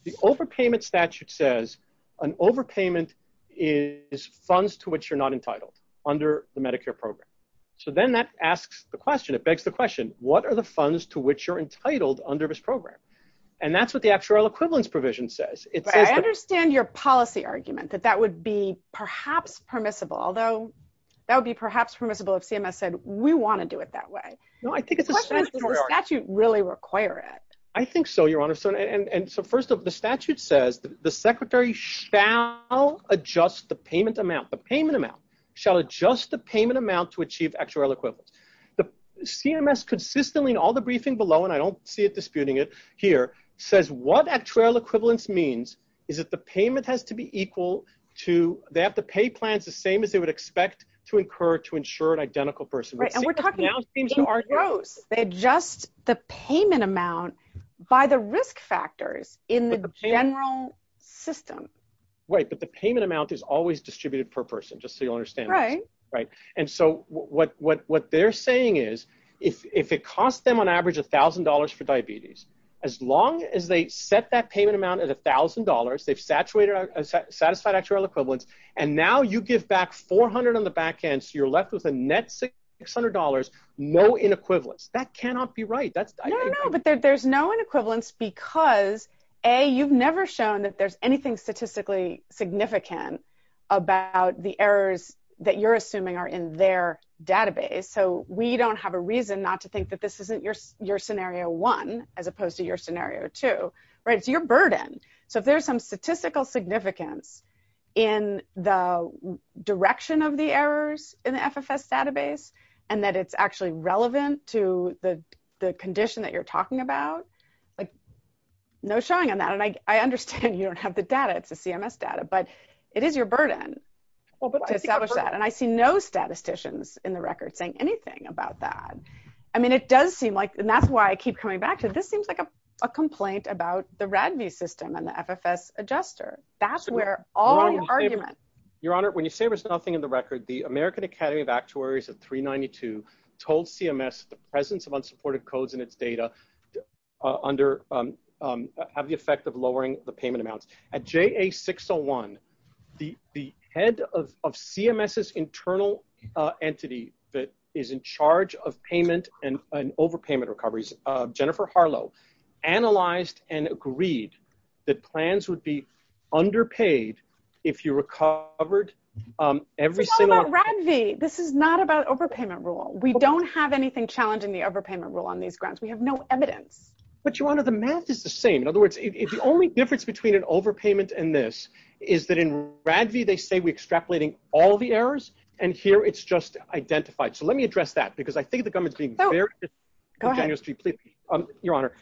The overpayment statute says an overpayment is funds to which you're not entitled under the Medicare program. So then that asks the question, it begs the question, what are the equivalence provision says? I understand your policy argument that that would be perhaps permissible, although that would be perhaps permissible if CMS said, we want to do it that way. No, I think the statute really requires it. I think so, Your Honor. So first of all, the statute says the secretary shall adjust the payment amount. The payment amount shall adjust the payment amount to achieve actual equivalence. The CMS consistently, in all the briefing below, and I don't see it disputing it here, says what actual equivalence means is that the payment has to be equal to, they have to pay plans the same as they would expect to incur to insure an identical person. Right, and we're talking in gross. They adjust the payment amount by the risk factors in the general system. Right, but the payment amount is always distributed per person, just so you understand. Right. Right. And so what they're saying is, if it costs them on average $1,000 for diabetes, as long as they set that payment amount at $1,000, they've satisfied actual equivalence, and now you give back $400 on the back end, so you're left with a net $600, no inequivalence. That cannot be right. No, no, but there's no inequivalence because, A, you've never shown that there's anything statistically significant about the errors that you're assuming are in their database. So we don't have a reason not to think that this isn't your scenario one, as opposed to your scenario two. Right, it's your burden. So if there's some statistical significance in the direction of the errors in the FFS database, and that it's actually relevant to the condition that you're talking about, no showing on that. And I understand you don't have the data. It's a CMS data, but it is your burden to establish that. And I see no statisticians in the record saying anything about that. I mean, it does seem like, and that's why I keep coming back, because this seems like a complaint about the RADV system and the FFS adjuster. That's where all the arguments- Your Honor, when you say there's nothing in the record, the American Academy of Actuaries of 392 told CMS the presence of unsupported codes in its data have the effect of lowering the payment amount. At JA601, the head of CMS's entity that is in charge of payment and overpayment recoveries, Jennifer Harlow, analyzed and agreed that plans would be underpaid if you recovered every single- It's not about RADV. This is not about overpayment rule. We don't have anything challenging the overpayment rule on these grounds. We have no evidence. But Your Honor, the math is the same. In other words, if the only difference between an overpayment and this is that in RADV, they say we're extrapolating all the errors, and here it's just identified. So let me address that, because I think the government's being very disingenuous. Your Honor,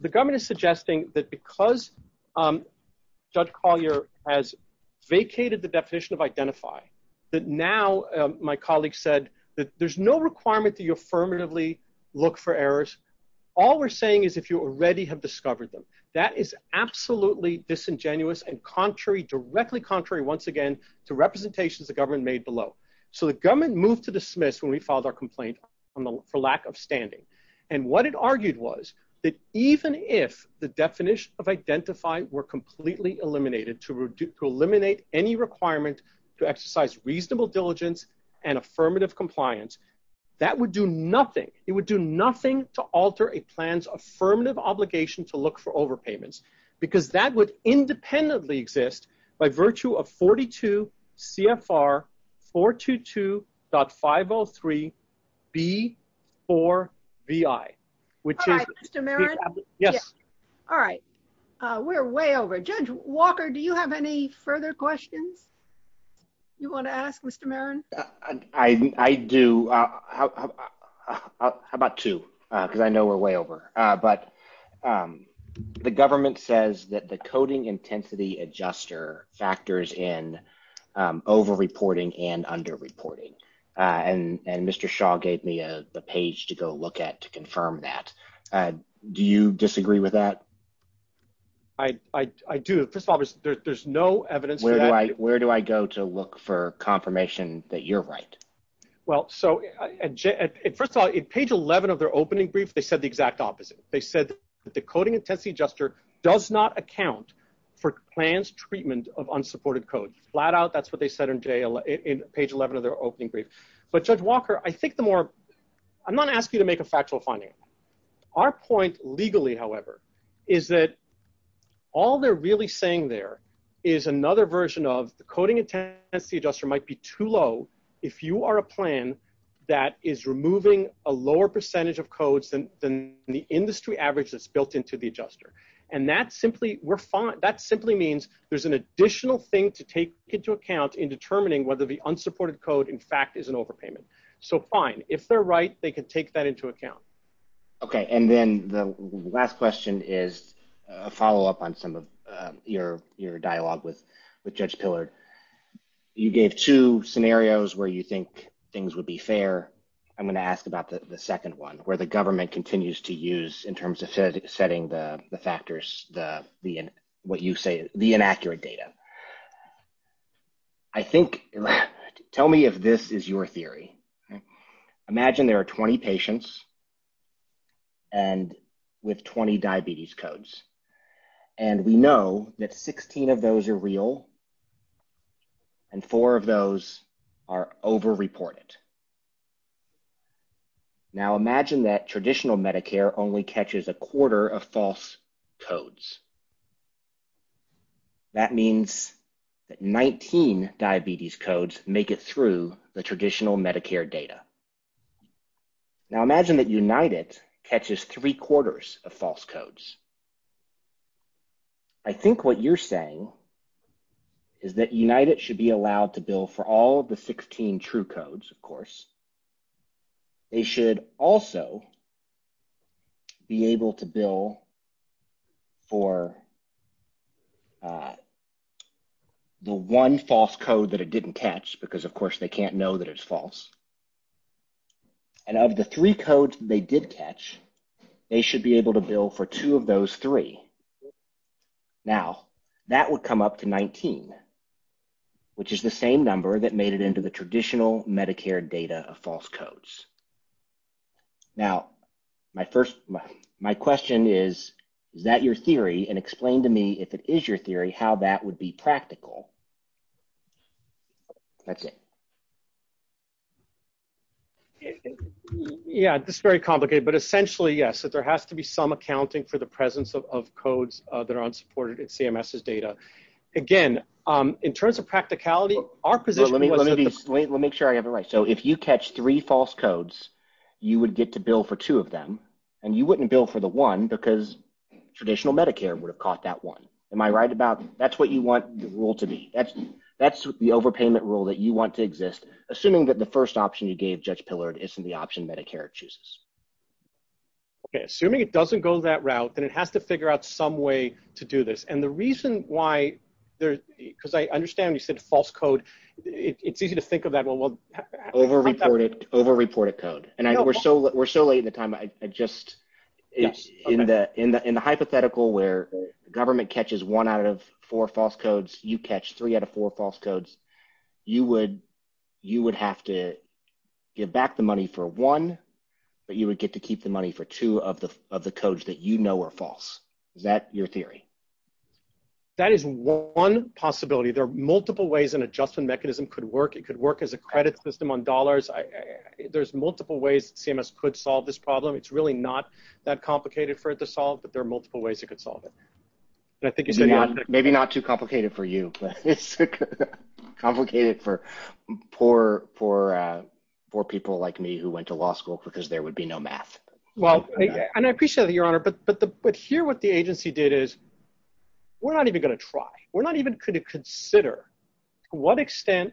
the government is suggesting that because Judge Collier has vacated the definition of identify, that now, my colleague said, that there's no requirement that you affirmatively look for errors. All we're saying is if you already have discovered them. That is absolutely disingenuous and directly contrary, once again, to representations the government made below. So the government moved to dismiss when we filed our complaint for lack of standing. And what it argued was that even if the definition of identify were completely eliminated to eliminate any requirement to exercise reasonable diligence and affirmative compliance, that would do nothing. It would do nothing to alter a plan's affirmative obligation to look for overpayments, because that would independently exist by virtue of 42 CFR 422.503B4VI, which is... All right, Mr. Marron. Yes. All right. We're way over. Judge Walker, do you have any further questions you want to ask, Mr. Marron? I do. How about two? Because I know we're way over. But the government says that the coding intensity adjuster factors in overreporting and underreporting. And Mr. Shaw gave me a page to go look at to confirm that. Do you disagree with that? I do. First of all, there's no evidence... Where do I go to look for confirmation that you're right? Well, so first of all, in page 11 of their opening brief, they said the exact opposite. They said that the coding intensity adjuster does not account for plan's treatment of unsupported codes. Flat out, that's what they said in page 11 of their opening brief. But Judge Walker, I think the more... I'm not asking you to make a factual finding. Our point legally, however, is that all they're really saying there is another version of the coding intensity adjuster might be too low if you are a plan that is removing a lower percentage of codes than the industry average that's built into the adjuster. And that simply means there's an additional thing to take into account in determining whether the unsupported code, in fact, is an overpayment. So fine. If they're right, they can take that into account. Okay. And then the last question is a follow-up on some of your dialogue with Judge Pillard. You gave two scenarios where you think things would be fair. I'm going to ask about the second one where the government continues to use in terms of setting the factors, what you say, the inaccurate data. I think... Tell me if this is your theory. Imagine there are 20 patients and with 20 diabetes codes. And we know that 16 of those are real. And four of those are over-reported. Now, imagine that traditional Medicare only catches a quarter of false codes. That means that 19 diabetes codes make it through the traditional Medicare data. Now, imagine that United catches three quarters of false codes. I think what you're saying is that United should be allowed to bill for all of the 16 true codes, of course. They should also be able to bill for the one false code that it didn't catch because, of course, they can't know that it's false. And of the three codes they did catch, they should be able to bill for two of those three. Now, that would come up to 19, which is the same number that made it into the traditional Medicare data of false codes. Now, my question is, is that your theory? And explain to me, if it is your theory, how that would be practical. That's it. Yeah, it's very complicated. But essentially, yes, that there has to be some accounting for the presence of codes that are unsupported in CMS's data. Again, in terms of practicality, our position- Let me make sure I have it right. So, if you catch three false codes, you would get to bill for two of them. And you wouldn't bill for one because traditional Medicare would have caught that one. Am I right about that? That's what you want the rule to be. That's the overpayment rule that you want to exist. Assuming that the first option you gave, Judge Pillard, isn't the option Medicare chooses. Okay. Assuming it doesn't go that route, then it has to figure out some way to do this. And the reason why there- Because I understand you said false code. It's easy to think of that- Overreported code. And we're so late in the time, I just- In the hypothetical where government catches one out of four false codes, you catch three out of four false codes, you would have to give back the money for one, but you would get to keep the money for two of the codes that you know are false. Is that your theory? That is one possibility. There are multiple ways an adjustment mechanism could work. It could work as a credit system on dollars. There's multiple ways CMS could solve this problem. It's really not that complicated for it to solve, but there are multiple ways you could solve it. Maybe not too complicated for you, but it's complicated for poor people like me who went to law school because there would be no math. Well, and I appreciate it, Your Honor, but here what the agency did is, we're not even going to try. We're not even going to consider to what extent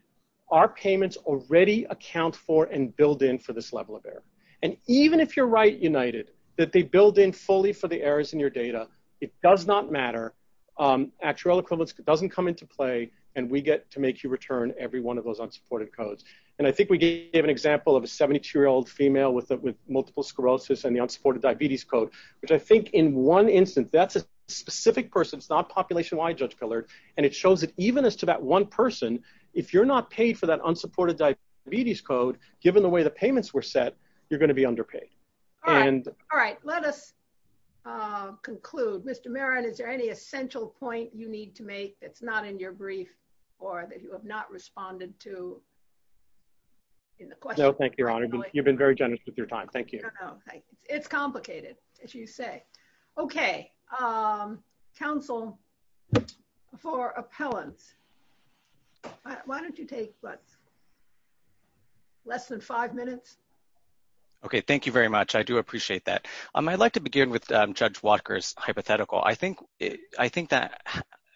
our payments already account for and build in for this level of error. And even if you're right, United, that they build in fully for the errors in your data, it does not matter. Actuarial equivalence doesn't come into play and we get to make you return every one of those unsupported codes. And I think we gave an example of a 72-year-old female with multiple sclerosis and the unsupported diabetes code, which I think in one instance, that's a specific person. It's not population-wide, Judge Pillard. And it shows that even as to that one person, if you're not paid for that unsupported diabetes code, given the way the payments were set, you're going to be underpaid. All right. Let us conclude. Mr. Merritt, is there any essential point you need to make that's not in your brief or that you have not responded to in the question? No, thank you, Your Honor. You've been very generous with your time. Thank you. It's complicated, as you say. Okay. Counsel for appellants, why don't you take less than five minutes? Okay. Thank you very much. I do appreciate that. I'd like to begin with Judge Walker's hypothetical. I think that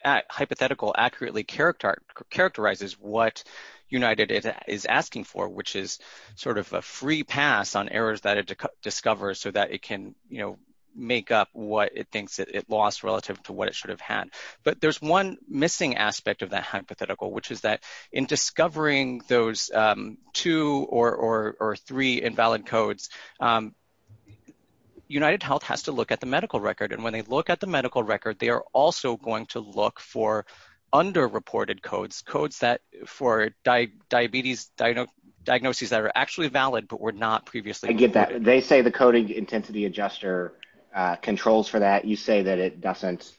hypothetical accurately characterizes what United is asking for, which is sort of a free pass on errors that it discovers so that it can make up what it thinks it lost relative to what it should have had. But there's one missing aspect of that hypothetical, which is that in discovering those two or three invalid codes, UnitedHealth has to look at the medical record. And when they look at the medical record, they are also going to look for underreported codes, codes for diagnoses that are actually valid but were not previously reported. They say the coding intensity adjuster controls for that. You say that it doesn't.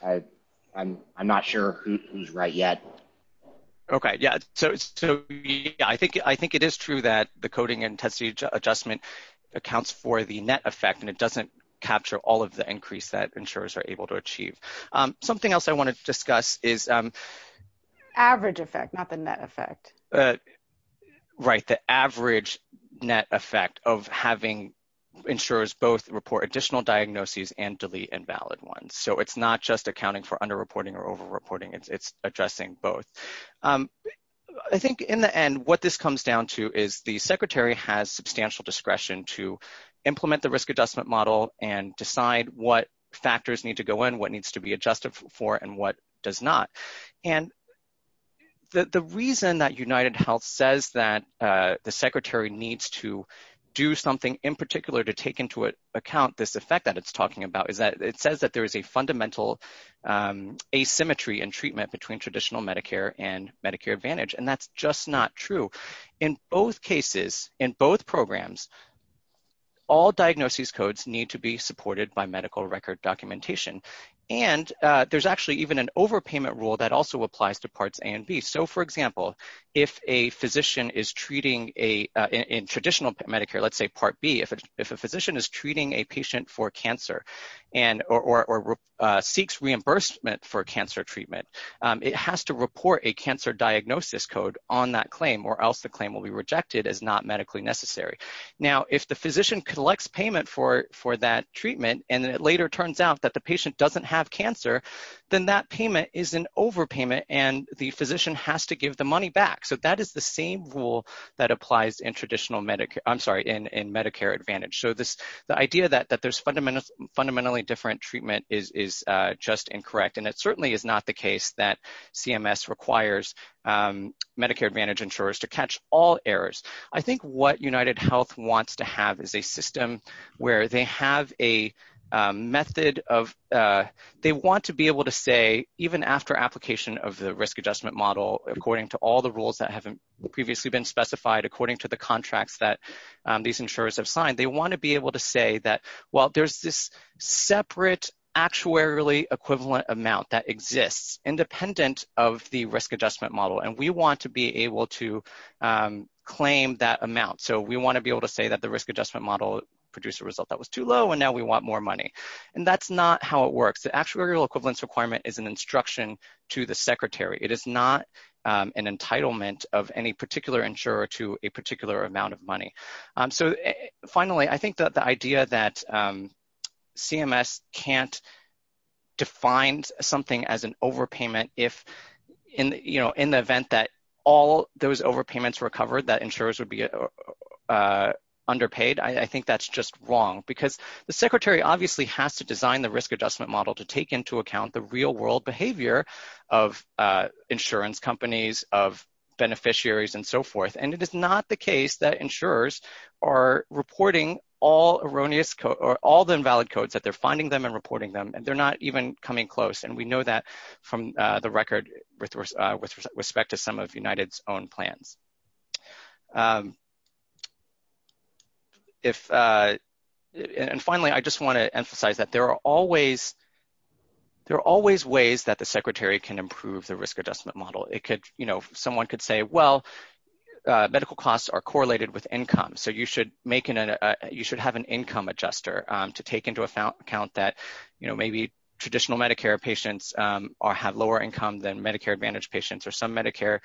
I'm not sure who's right yet. Okay. Yeah. I think it is true that the coding intensity adjustment accounts for the net effect, and it doesn't capture all of the increase that insurers are able to achieve. Something else I wanted to discuss is... Average effect, not the net effect. Right. The average net effect of having insurers both report additional diagnoses and delete invalid ones. So it's not just accounting for underreporting or overreporting. It's addressing both. I think in the end, what this comes down to is the secretary has substantial discretion to what factors need to go in, what needs to be adjusted for, and what does not. And the reason that UnitedHealth says that the secretary needs to do something in particular to take into account this effect that it's talking about is that it says that there is a fundamental asymmetry in treatment between traditional Medicare and Medicare Advantage. And that's just not true. In both cases, in both programs, all diagnosis codes need to be supported by medical record documentation. And there's actually even an overpayment rule that also applies to Parts A and B. So, for example, if a physician is treating in traditional Medicare, let's say Part B, if a physician is treating a patient for cancer or seeks reimbursement for that claim or else the claim will be rejected as not medically necessary. Now, if the physician collects payment for that treatment and it later turns out that the patient doesn't have cancer, then that payment is an overpayment and the physician has to give the money back. So that is the same rule that applies in Medicare Advantage. So the idea that there's fundamentally different treatment is just incorrect. And it certainly is not the case that Medicare Advantage insurers to catch all errors. I think what UnitedHealth wants to have is a system where they have a method of, they want to be able to say even after application of the risk adjustment model, according to all the rules that haven't previously been specified, according to the contracts that these insurers have signed, they want to be able to say that, well, there's this separate actuarially equivalent amount that exists independent of the risk adjustment model. And we want to be able to claim that amount. So we want to be able to say that the risk adjustment model produced a result that was too low, and now we want more money. And that's not how it works. The actuarial equivalence requirement is an instruction to the secretary. It is not an entitlement of any particular insurer to a particular amount of money. So finally, I think that the idea that CMS can't define something as an overpayment if, you know, in the event that all those overpayments were covered, that insurers would be underpaid, I think that's just wrong. Because the secretary obviously has to design the risk adjustment model to take into account the real world behavior of insurance companies, of beneficiaries, and so forth. And it is not the case that insurers are reporting all erroneous, or all the invalid codes, that they're finding them and reporting them, and they're not even coming close. And we know that from the record with respect to some of United's own plans. And finally, I just want to emphasize that there are always ways that the secretary can improve the risk adjustment model. Someone could say, well, medical costs are correlated with income, so you should have an income adjuster to take into account that maybe traditional Medicare patients have lower income than Medicare Advantage patients, or some Medicare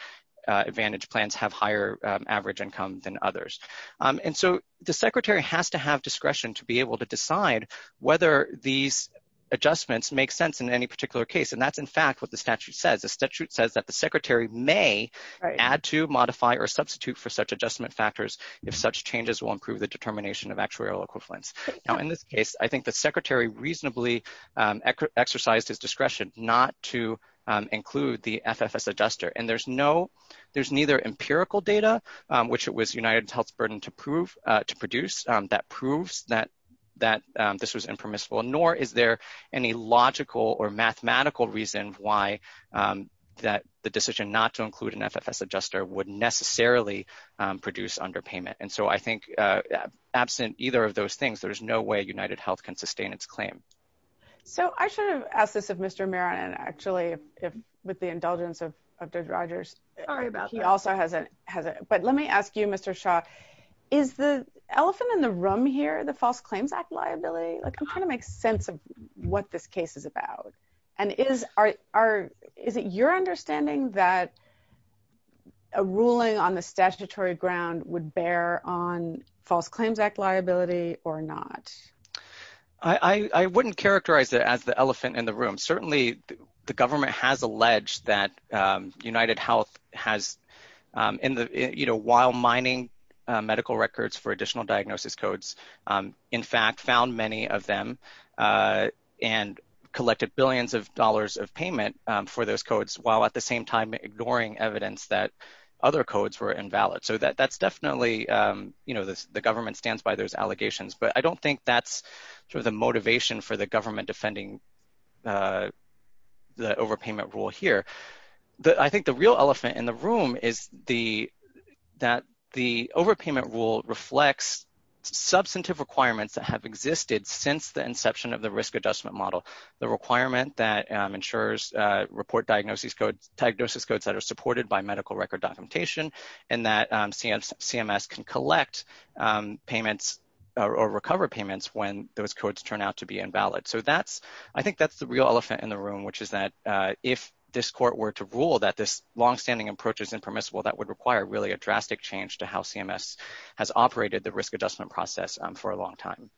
Advantage plans have higher average income than others. And so, the secretary has to have discretion to be able to decide whether these adjustments make sense in any particular case. And that's, in fact, what the statute says. The statute says that the secretary may add to, will improve the determination of actuarial equivalence. Now, in this case, I think the secretary reasonably exercises discretion not to include the FFS adjuster. And there's neither empirical data, which it was United Health's burden to produce, that proves that this was impermissible, nor is there any logical or mathematical reason why the decision not to absent either of those things, there's no way United Health can sustain its claim. So, I should have asked this of Mr. Maron, actually, with the indulgence of Judge Rogers. Sorry about that. He also has a, but let me ask you, Mr. Shaw, is the elephant in the room here, the false claim back liability? Like, it kind of makes sense of what this case is about. And is it your understanding that a ruling on the statutory ground would bear on false claims back liability or not? I wouldn't characterize it as the elephant in the room. Certainly, the government has alleged that United Health has, you know, while mining medical records for additional diagnosis codes, in fact, found many of them and collected billions of dollars of payment for those codes, while at the same time, ignoring evidence that other codes were invalid. So, that's definitely, you know, the government stands by those allegations, but I don't think that's sort of the motivation for the government defending the overpayment rule here. But I think the real elephant in the room is that the overpayment rule reflects substantive requirements that have existed since the risk adjustment model. The requirement that ensures report diagnosis codes that are supported by medical record documentation and that CMS can collect payments or recover payments when those codes turn out to be invalid. So, I think that's the real elephant in the room, which is that if this court were to rule that this longstanding approach is impermissible, that would require really a drastic change to how CMS has operated the risk adjustment process for a long time.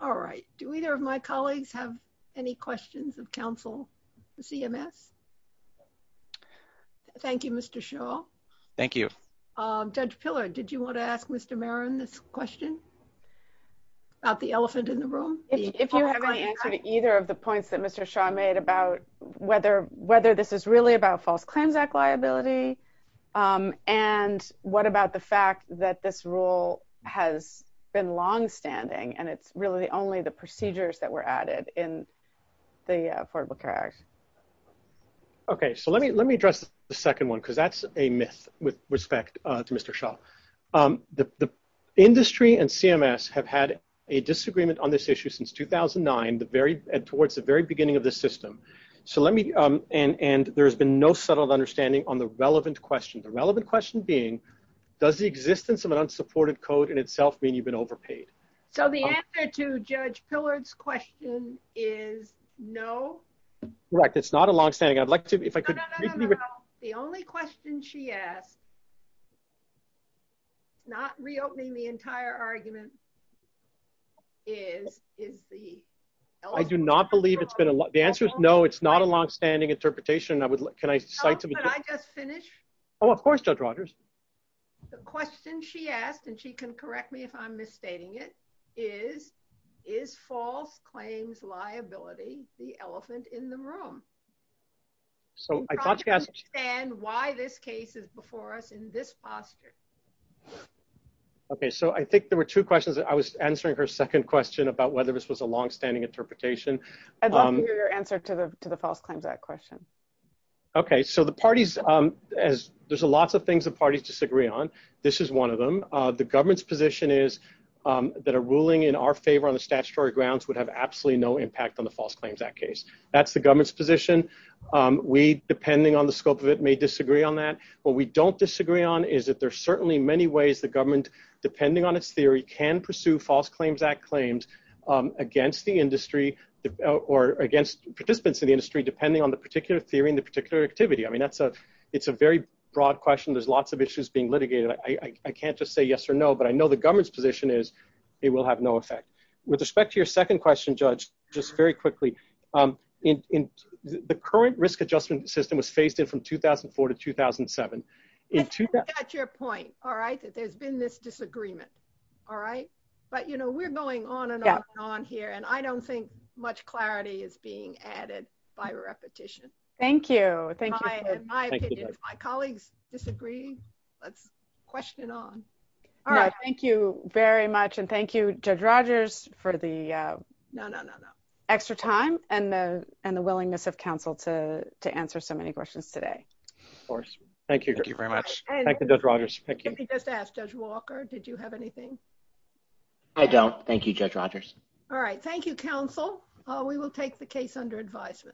All right. Do either of my colleagues have any questions of counsel for CMS? Thank you, Mr. Shaw. Thank you. Judge Pillar, did you want to ask Mr. Marin this question about the elephant in the room? If you haven't answered either of the points that Mr. Shaw made about whether this is really about false claims act liability and what about the fact that this is really only the procedures that were added in the Affordable Care Act? Okay. So, let me address the second one, because that's a myth with respect to Mr. Shaw. The industry and CMS have had a disagreement on this issue since 2009 and towards the very beginning of the system. And there's been no subtle understanding on the relevant question. The relevant question being, does the existence of an unsupported code in itself mean you've overpaid? So, the answer to Judge Pillar's question is no. Correct. It's not a longstanding. I'd like to... No, no, no, no, no. The only question she asked, not reopening the entire argument, is the... I do not believe it's been a... The answer is no. It's not a longstanding interpretation. Can I cite to the... Oh, could I just finish? Oh, of course, Judge Rogers. The question she asked, and she can correct me if I'm misstating it, is, is false claims liability the elephant in the room? So, I thought to ask... You've got to understand why this case is before us in this posture. Okay. So, I think there were two questions. I was answering her second question about whether this was a longstanding interpretation. I'd love to hear your answer to the false claims liability. There's a lot of things that parties disagree on. This is one of them. The government's position is that a ruling in our favor on the statutory grounds would have absolutely no impact on the False Claims Act case. That's the government's position. We, depending on the scope of it, may disagree on that. What we don't disagree on is that there are certainly many ways the government, depending on its theory, can pursue False Claims Act claims against the industry or against participants in the industry, depending on the particular theory and the particular activity. I mean, it's a very broad question. There's lots of issues being litigated. I can't just say yes or no, but I know the government's position is it will have no effect. With respect to your second question, Judge, just very quickly, the current risk adjustment system was phased in from 2004 to 2007. That's your point, all right, that there's been this disagreement, all right? But we're going on and on and on here, and I don't think much clarity is being added by repetition. Thank you. In my opinion, if my colleagues disagree, let's question on. All right. Thank you very much, and thank you, Judge Rogers, for the extra time and the willingness of counsel to answer so many questions today. Of course. Thank you. Thank you very much. Thank you, Judge Rogers. Thank you. Let me just ask, Judge Walker, did you have anything? I don't. Thank you, Judge Rogers. All right. Thank you, counsel. We will take the case under advisory.